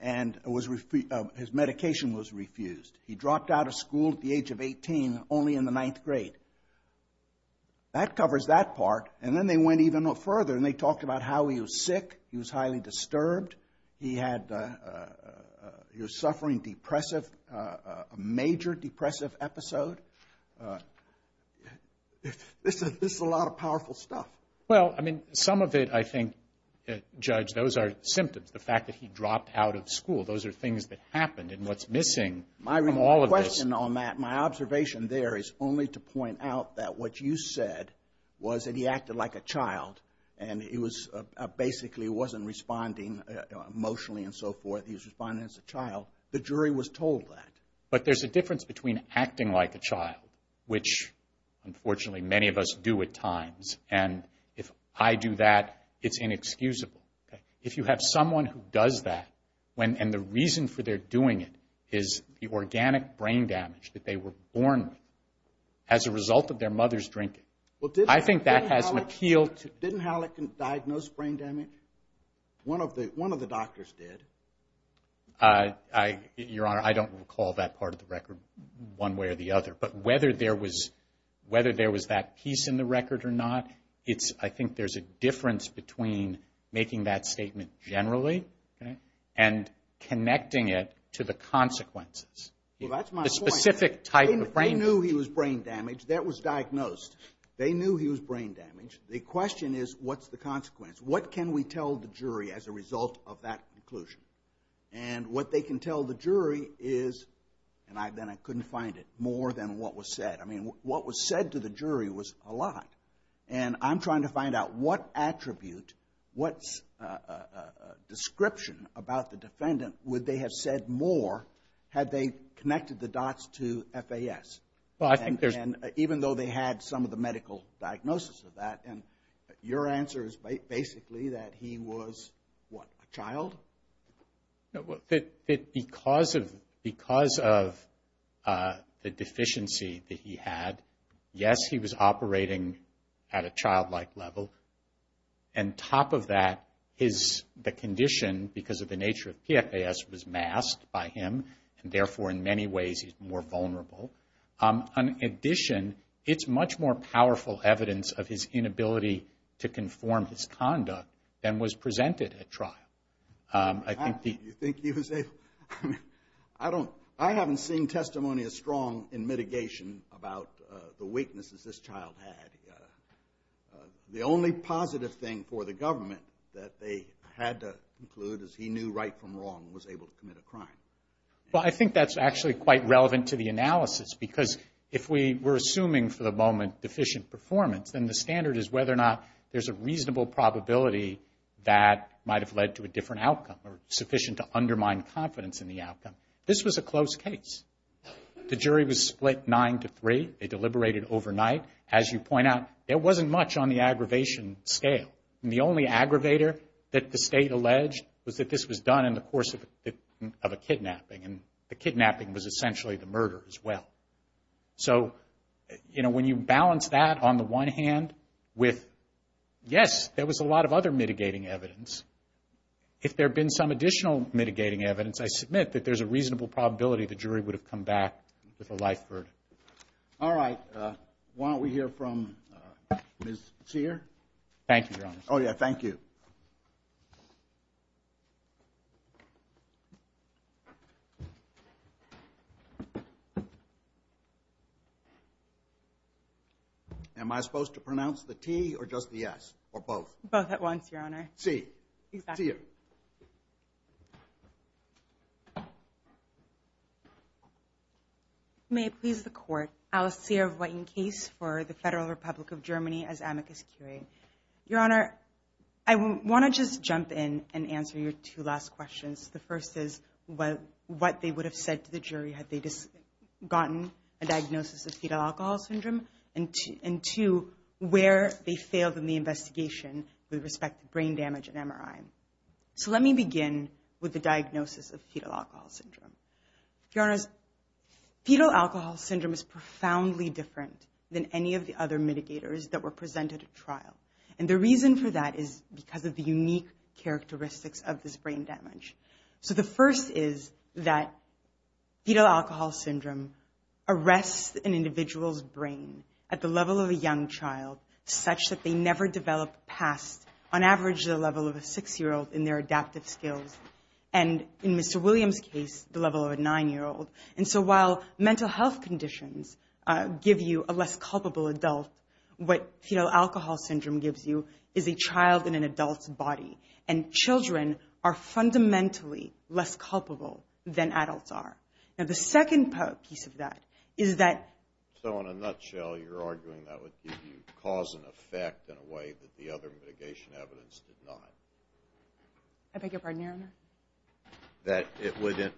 and his medication was refused. He dropped out of school at the age of 18, only in the ninth grade. That covers that part, and then they went even further and they talked about how he was sick. He was highly disturbed. He was suffering a major depressive episode. This is a lot of powerful stuff. Well, I mean, some of it I think, Judge, those are symptoms. The fact that he dropped out of school. Those are things that happened and what's missing. My question on that, my observation there, is only to point out that what you said was that he acted like a child and basically wasn't responding emotionally and so forth. He was responding as a child. The jury was told that. But there's a difference between acting like a child, which unfortunately many of us do at times, and if I do that, it's inexcusable. If you have someone who does that and the reason for their doing it is the organic brain damage that they were born with as a result of their mother's drinking, I think that has an appeal to... Didn't Hallican diagnose brain damage? One of the doctors did. Your Honor, I don't recall that part of the record one way or the other. But whether there was that piece in the record or not, I think there's a difference between making that statement generally and connecting it to the consequences. That's my point. The specific type of brain damage. They knew he was brain damaged. That was diagnosed. They knew he was brain damaged. The question is, what's the consequence? What can we tell the jury as a result of that conclusion? And what they can tell the jury is, and then I couldn't find it, more than what was said. I mean, what was said to the jury was a lot. And I'm trying to find out what attribute, what description about the defendant would they have said more had they connected the dots to FAS? Even though they had some of the medical diagnosis of that. And your answer is basically that he was, what, a child? Because of the deficiency that he had, yes, he was operating at a childlike level. And top of that is the condition, because of the nature of PFAS, was masked by him, and therefore in many ways he's more vulnerable. In addition, it's much more powerful evidence of his inability to conform his conduct than was presented at trial. Do you think he was able? I haven't seen testimony as strong in mitigation about the weaknesses this child had. The only positive thing for the government that they had to conclude is he knew right from wrong and was able to commit a crime. Well, I think that's actually quite relevant to the analysis, because if we were assuming for the moment deficient performance, then the standard is whether or not there's a reasonable probability that might have led to a different outcome or sufficient to undermine confidence in the outcome. This was a close case. The jury was split nine to three. They deliberated overnight. As you point out, there wasn't much on the aggravation scale. The only aggravator that the state alleged was that this was done in the course of a kidnapping, and the kidnapping was essentially the murder as well. So when you balance that on the one hand with, yes, there was a lot of other mitigating evidence, if there had been some additional mitigating evidence, I submit that there's a reasonable probability the jury would have come back with a light verdict. All right. Why don't we hear from Ms. Sear? Thank you, Your Honor. Oh, yeah, thank you. Am I supposed to pronounce the P or just the S or both? Both at once, Your Honor. C. C. C. May it please the Court. Alice Sear of Whiting Case for the Federal Republic of Germany as amicus curiae. Your Honor, I want to just jump in and answer your two last questions. The first is what they would have said to the jury had they gotten a diagnosis of fetal alcohol syndrome, and two, where they failed in the investigation with respect to brain damage and MRI. So let me begin with the diagnosis of fetal alcohol syndrome. Your Honor, fetal alcohol syndrome is profoundly different than any of the other mitigators that were presented at trial, and the reason for that is because of the unique characteristics of this brain damage. So the first is that fetal alcohol syndrome arrests an individual's brain at the level of a young child such that they never develop past, on average, the level of a 6-year-old in their adaptive skills, and in Mr. Williams' case, the level of a 9-year-old. And so while mental health conditions give you a less culpable adult, what fetal alcohol syndrome gives you is a child in an adult's body, and children are fundamentally less culpable than adults are. Now the second piece of that is that... in a way that the other mitigation evidence did not. I beg your pardon, Your Honor? That it would,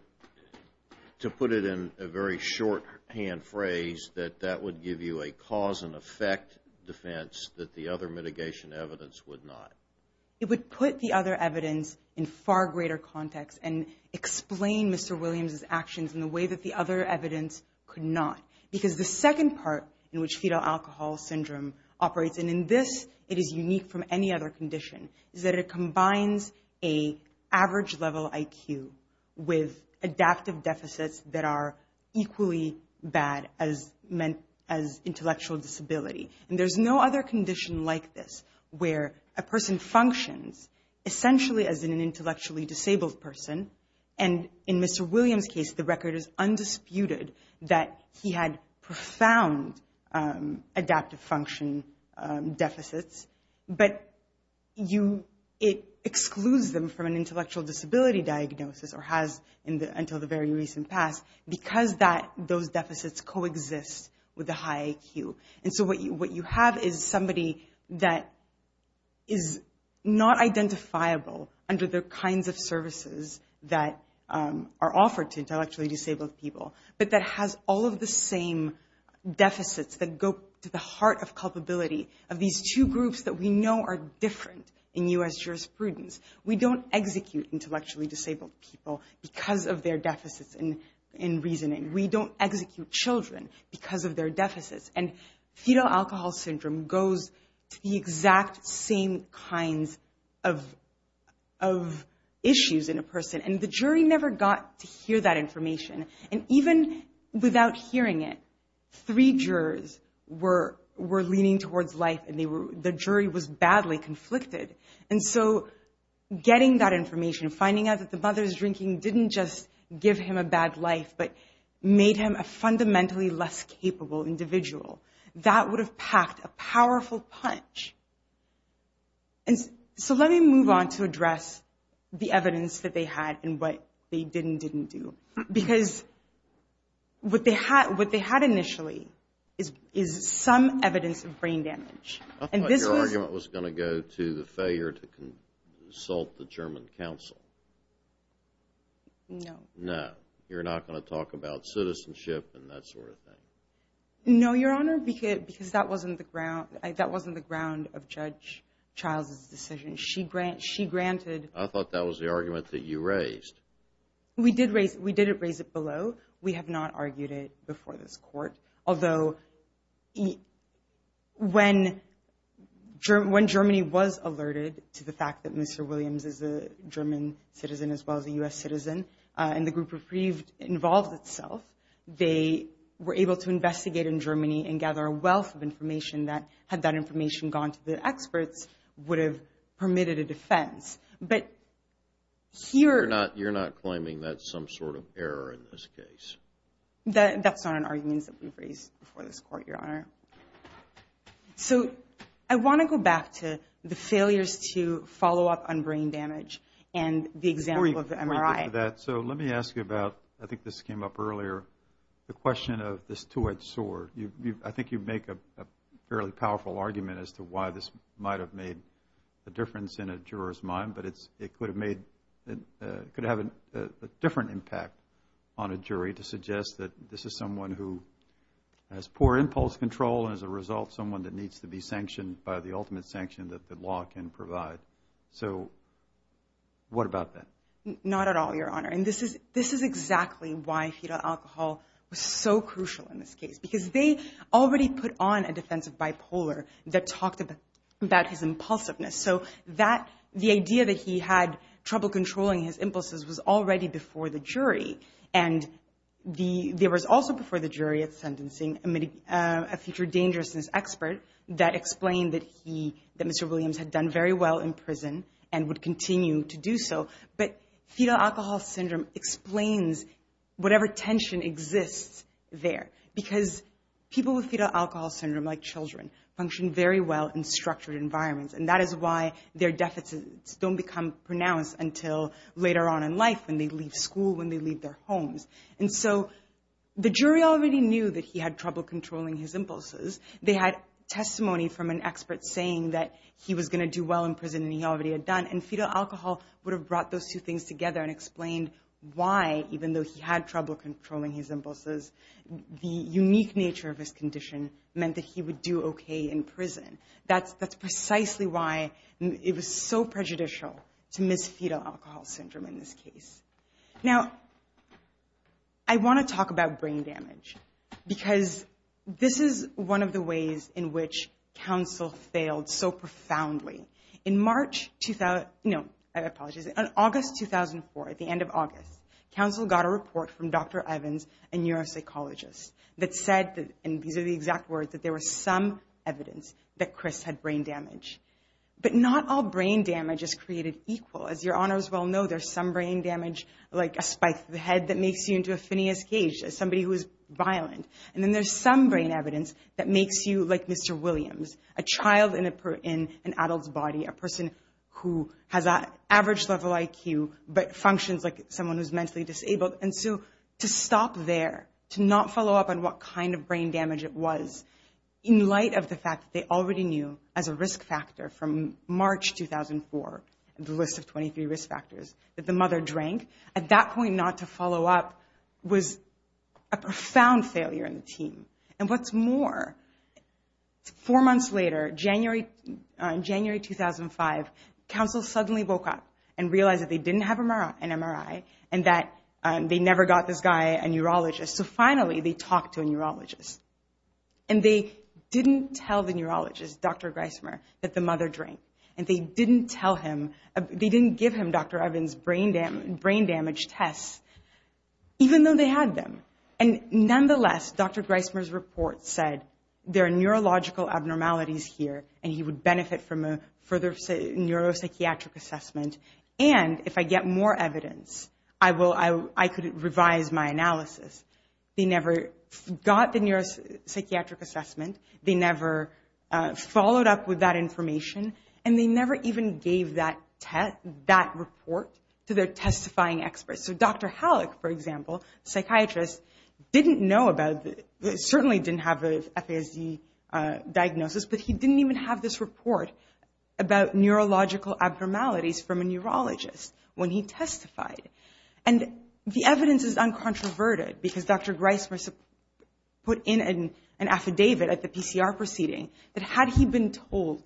to put it in a very shorthand phrase, that that would give you a cause-and-effect defense that the other mitigation evidence would not. It would put the other evidence in far greater context and explain Mr. Williams' actions in a way that the other evidence could not, because the second part in which fetal alcohol syndrome operates, and in this it is unique from any other condition, is that it combines an average level IQ with adaptive deficits that are equally bad as intellectual disability. And there's no other condition like this where a person functions essentially as an intellectually disabled person, and in Mr. Williams' case, the record is undisputed that he had profound adaptive function deficits, but it excludes them from an intellectual disability diagnosis, or has until the very recent past, because those deficits coexist with the high IQ. And so what you have is somebody that is not identifiable under the kinds of services that are offered to intellectually disabled people, but that has all of the same deficits that go to the heart of culpability of these two groups that we know are different in U.S. jurisprudence. We don't execute intellectually disabled people because of their deficits in reasoning. We don't execute children because of their deficits. And fetal alcohol syndrome goes to the exact same kinds of issues in a person, and the jury never got to hear that information. And even without hearing it, three jurors were leaning towards life, and the jury was badly conflicted. And so getting that information, finding out that the mother's drinking didn't just give him a bad life, but made him a fundamentally less capable individual, that would have packed a powerful punch. And so let me move on to address the evidence that they had and what they did and didn't do. Because what they had initially is some evidence of brain damage. I thought your argument was going to go to the failure to consult the German counsel. No. No, you're not going to talk about citizenship and that sort of thing. No, Your Honor, because that wasn't the ground of Judge Child's decision. I thought that was the argument that you raised. We did raise it below. We have not argued it before this Court. Although when Germany was alerted to the fact that Mr. Williams is a German citizen as well as a U.S. citizen, and the group refused to involve itself, they were able to investigate in Germany and gather a wealth of information that, had that information gone to the experts, would have permitted a defense. But here... You're not claiming that's some sort of error in this case. That's not an argument that we've raised before this Court, Your Honor. So I want to go back to the failures to follow up on brain damage and the example of the MRI. So let me ask you about, I think this came up earlier, the question of this two-edged sword. I think you make a fairly powerful argument as to why this might have made a difference in a juror's mind, but it could have a different impact on a jury to suggest that this is someone who has poor impulse control and, as a result, someone that needs to be sanctioned by the ultimate sanction that the law can provide. So what about that? Not at all, Your Honor, and this is exactly why fetal alcohol was so crucial in this case, because they already put on a defense of bipolar that talked about his impulsiveness. So the idea that he had trouble controlling his impulses was already before the jury, and there was also before the jury a future dangerousness expert that explained that Mr. Williams had done very well in prison and would continue to do so. But fetal alcohol syndrome explains whatever tension exists there because people with fetal alcohol syndrome, like children, function very well in structured environments, and that is why their deficits don't become pronounced until later on in life when they leave school, when they leave their homes. And so the jury already knew that he had trouble controlling his impulses. They had testimony from an expert saying that he was going to do well in prison and he already had done, and fetal alcohol would have brought those two things together and explained why, even though he had trouble controlling his impulses, the unique nature of his condition meant that he would do okay in prison. That's precisely why it was so prejudicial to miss fetal alcohol syndrome in this case. Now, I want to talk about brain damage, because this is one of the ways in which counsel failed so profoundly. In August 2004, at the end of August, counsel got a report from Dr. Evans, a neuropsychologist, that said, and these are the exact words, that there was some evidence that Chris had brain damage. But not all brain damage is created equal. As your honors well know, there's some brain damage, like a spike to the head that makes you into a sphineous cage, as somebody who is violent. And then there's some brain evidence that makes you like Mr. Williams, a child in an adult's body, a person who has an average level IQ but functions like someone who's mentally disabled. And so to stop there, to not follow up on what kind of brain damage it was, in light of the fact that they already knew as a risk factor from March 2004, the risk of 23 risk factors, that the mother drank, at that point not to follow up was a profound failure in the team. And what's more, four months later, January 2005, counsel suddenly woke up and realized that they didn't have an MRI and that they never got this guy, a neurologist. So finally they talked to a neurologist. And they didn't tell the neurologist, Dr. Greissmer, that the mother drank. And they didn't give him Dr. Evans' brain damage test, even though they had them. And nonetheless, Dr. Greissmer's report said, there are neurological abnormalities here, and he would benefit from a further neuropsychiatric assessment. And if I get more evidence, I could revise my analysis. They never got the neuropsychiatric assessment. They never followed up with that information. And they never even gave that report to their testifying experts. So Dr. Halleck, for example, a psychiatrist, certainly didn't have the FARC diagnosis, but he didn't even have this report about neurological abnormalities from a neurologist when he testified. And the evidence is uncontroverted because Dr. Greissmer put in an affidavit at the PCR proceeding that had he been told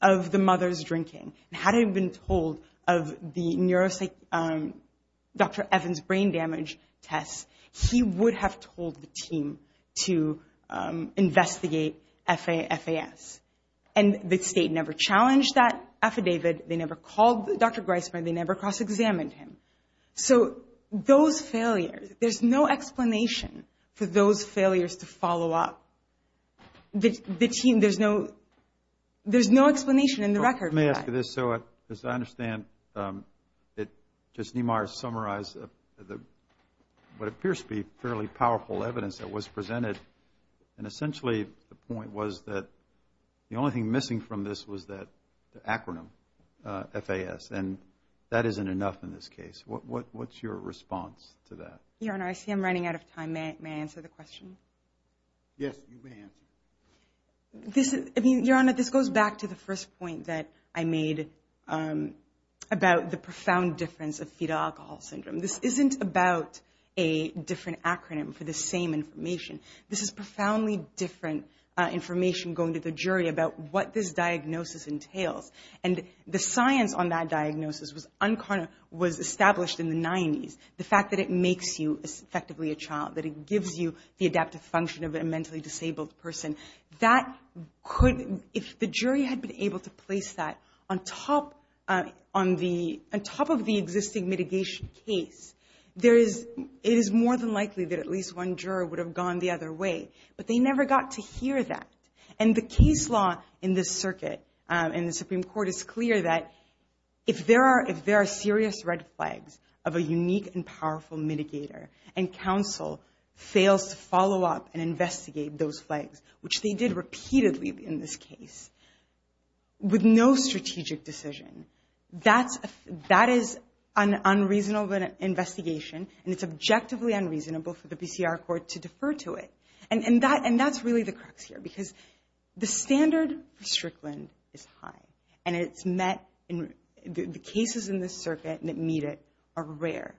of the mother's drinking and had he been told of Dr. Evans' brain damage test, he would have told the team to investigate FAS. And the state never challenged that affidavit. They never called Dr. Greissmer. They never cross-examined him. So those failures, there's no explanation for those failures to follow up. The team, there's no explanation in the record. Let me ask you this. So as I understand, just Neema has summarized what appears to be fairly powerful evidence that was presented, and essentially the point was that the only thing missing from this was the acronym FAS, and that isn't enough in this case. What's your response to that? Your Honor, I see I'm running out of time. May I answer the question? Yes, you may answer. Your Honor, this goes back to the first point that I made about the profound difference of fetal alcohol syndrome. This isn't about a different acronym for the same information. This is profoundly different information going to the jury about what this diagnosis entails. And the science on that diagnosis was established in the 90s. The fact that it makes you effectively a child, that it gives you the adaptive function of a mentally disabled person, if the jury had been able to place that on top of the existing mitigation case, it is more than likely that at least one juror would have gone the other way, but they never got to hear that. And the case law in this circuit and the Supreme Court is clear that if there are serious red flags of a unique and powerful mitigator and counsel fails to follow up and investigate those flags, which they did repeatedly in this case, with no strategic decision, that is an unreasonable investigation and it's objectively unreasonable for the BCR Court to defer to it. And that's really the crux here because the standard for Strickland is high and it's met in the cases in this circuit that meet it are rare.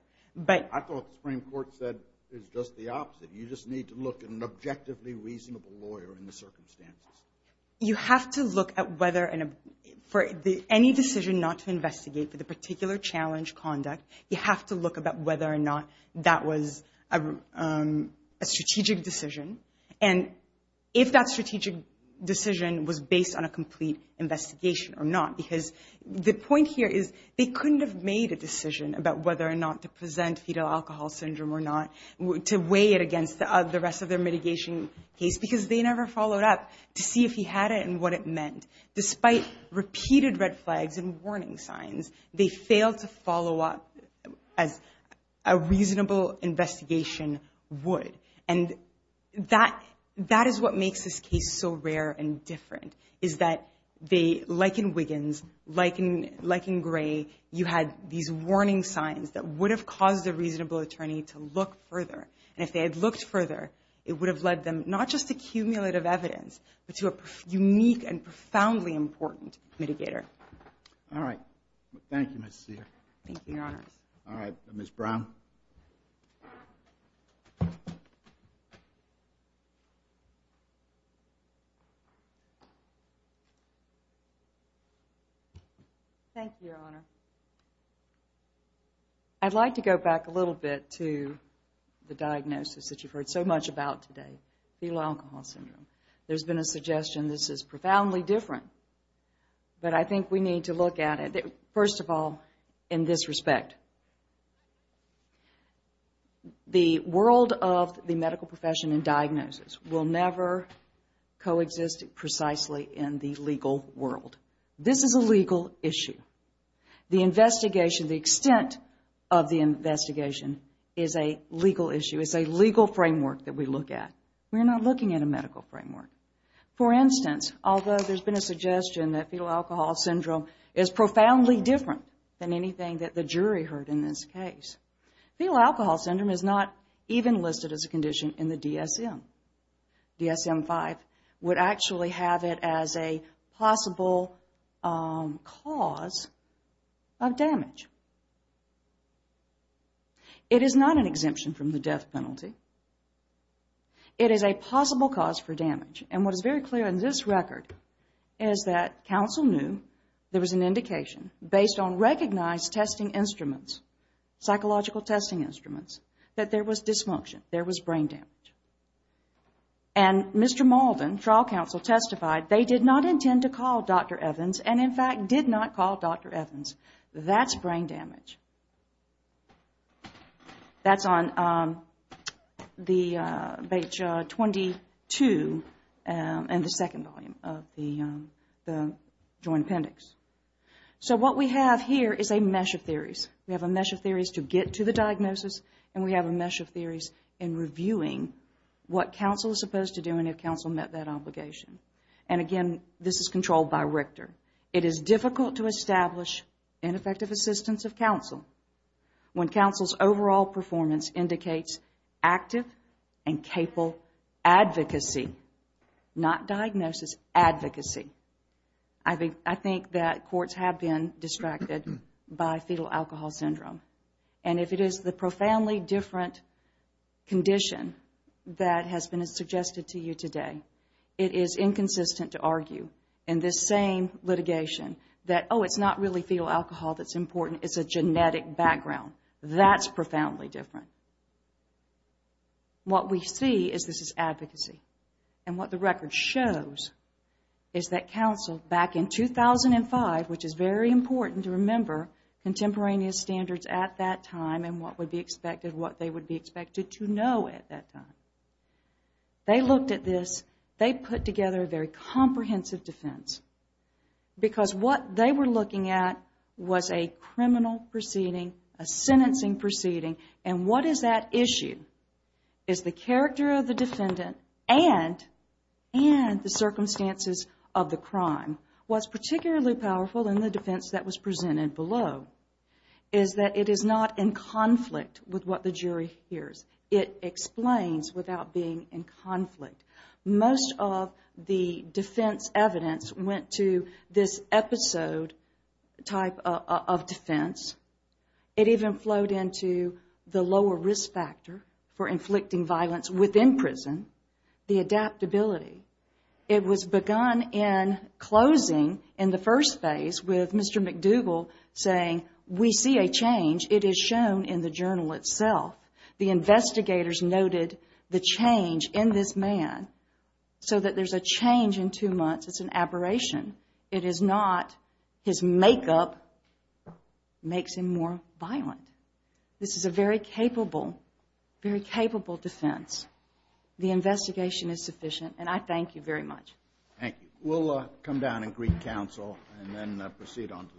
I thought the Supreme Court said it's just the opposite. You just need to look at an objectively reasonable lawyer in the circumstances. You have to look at whether for any decision not to investigate for the particular challenge conduct, you have to look about whether or not that was a strategic decision and if that strategic decision was based on a complete investigation or not. Because the point here is they couldn't have made a decision about whether or not to present fetal alcohol syndrome or not, to weigh it against the rest of their mitigation case because they never followed up to see if he had it and what it meant. Despite repeated red flags and warning signs, they failed to follow up as a reasonable investigation would. And that is what makes this case so rare and different, is that like in Wiggins, like in Gray, you had these warning signs that would have caused a reasonable attorney to look further. And if they had looked further, it would have led them, not just to cumulative evidence, but to a unique and profoundly important mitigator. All right. Thank you, Ms. Cedar. Thank you, Your Honor. All right. Ms. Brown. Thank you, Your Honor. I'd like to go back a little bit to the diagnosis that you've heard so much about today, fetal alcohol syndrome. There's been a suggestion this is profoundly different. But I think we need to look at it, first of all, in this respect. The world of the medical profession and diagnosis will never coexist precisely in the legal world. This is a legal issue. The investigation, the extent of the investigation, is a legal issue. It's a legal framework that we look at. We're not looking at a medical framework. For instance, although there's been a suggestion that fetal alcohol syndrome is profoundly different than anything that the jury heard in this case, fetal alcohol syndrome is not even listed as a condition in the DSM. DSM-5 would actually have it as a possible cause of damage. It is not an exemption from the death penalty. It is a possible cause for damage. What is very clear in this record is that counsel knew there was an indication based on recognized testing instruments, psychological testing instruments, that there was dysfunction, there was brain damage. Mr. Malden, trial counsel, testified they did not intend to call Dr. Evans and, in fact, did not call Dr. Evans. That's brain damage. That's on page 22 in the second volume of the Joint Appendix. What we have here is a mesh of theories. We have a mesh of theories to get to the diagnosis, and we have a mesh of theories in reviewing what counsel is supposed to do and if counsel met that obligation. Again, this is controlled by Richter. It is difficult to establish ineffective assistance of counsel when counsel's overall performance indicates active and capable advocacy, not diagnosis, advocacy. I think that courts have been distracted by fetal alcohol syndrome. And if it is the profoundly different condition that has been suggested to you today, it is inconsistent to argue in this same litigation that, oh, it's not really fetal alcohol that's important, it's a genetic background. That's profoundly different. What we see is this is advocacy. And what the record shows is that counsel, back in 2005, which is very important to remember contemporaneous standards at that time and what would be expected, what they would be expected to know at that time. They looked at this, they put together their comprehensive defense because what they were looking at was a criminal proceeding, a sentencing proceeding, and what is that issue? It's the character of the defendant and the circumstances of the crime. What's particularly powerful in the defense that was presented below is that it is not in conflict with what the jury hears. It explains without being in conflict. Most of the defense evidence went to this episode type of defense. It even flowed into the lower risk factor for inflicting violence within prison, the adaptability. It was begun in closing in the first phase with Mr. McDougall saying, we see a change, it is shown in the journal itself. The investigators noted the change in this man so that there's a change in two months. It's an aberration. It is not his makeup makes him more violent. This is a very capable, very capable defense. The investigation is sufficient, and I thank you very much. Thank you. We'll come down and greet counsel and then proceed on to the next case.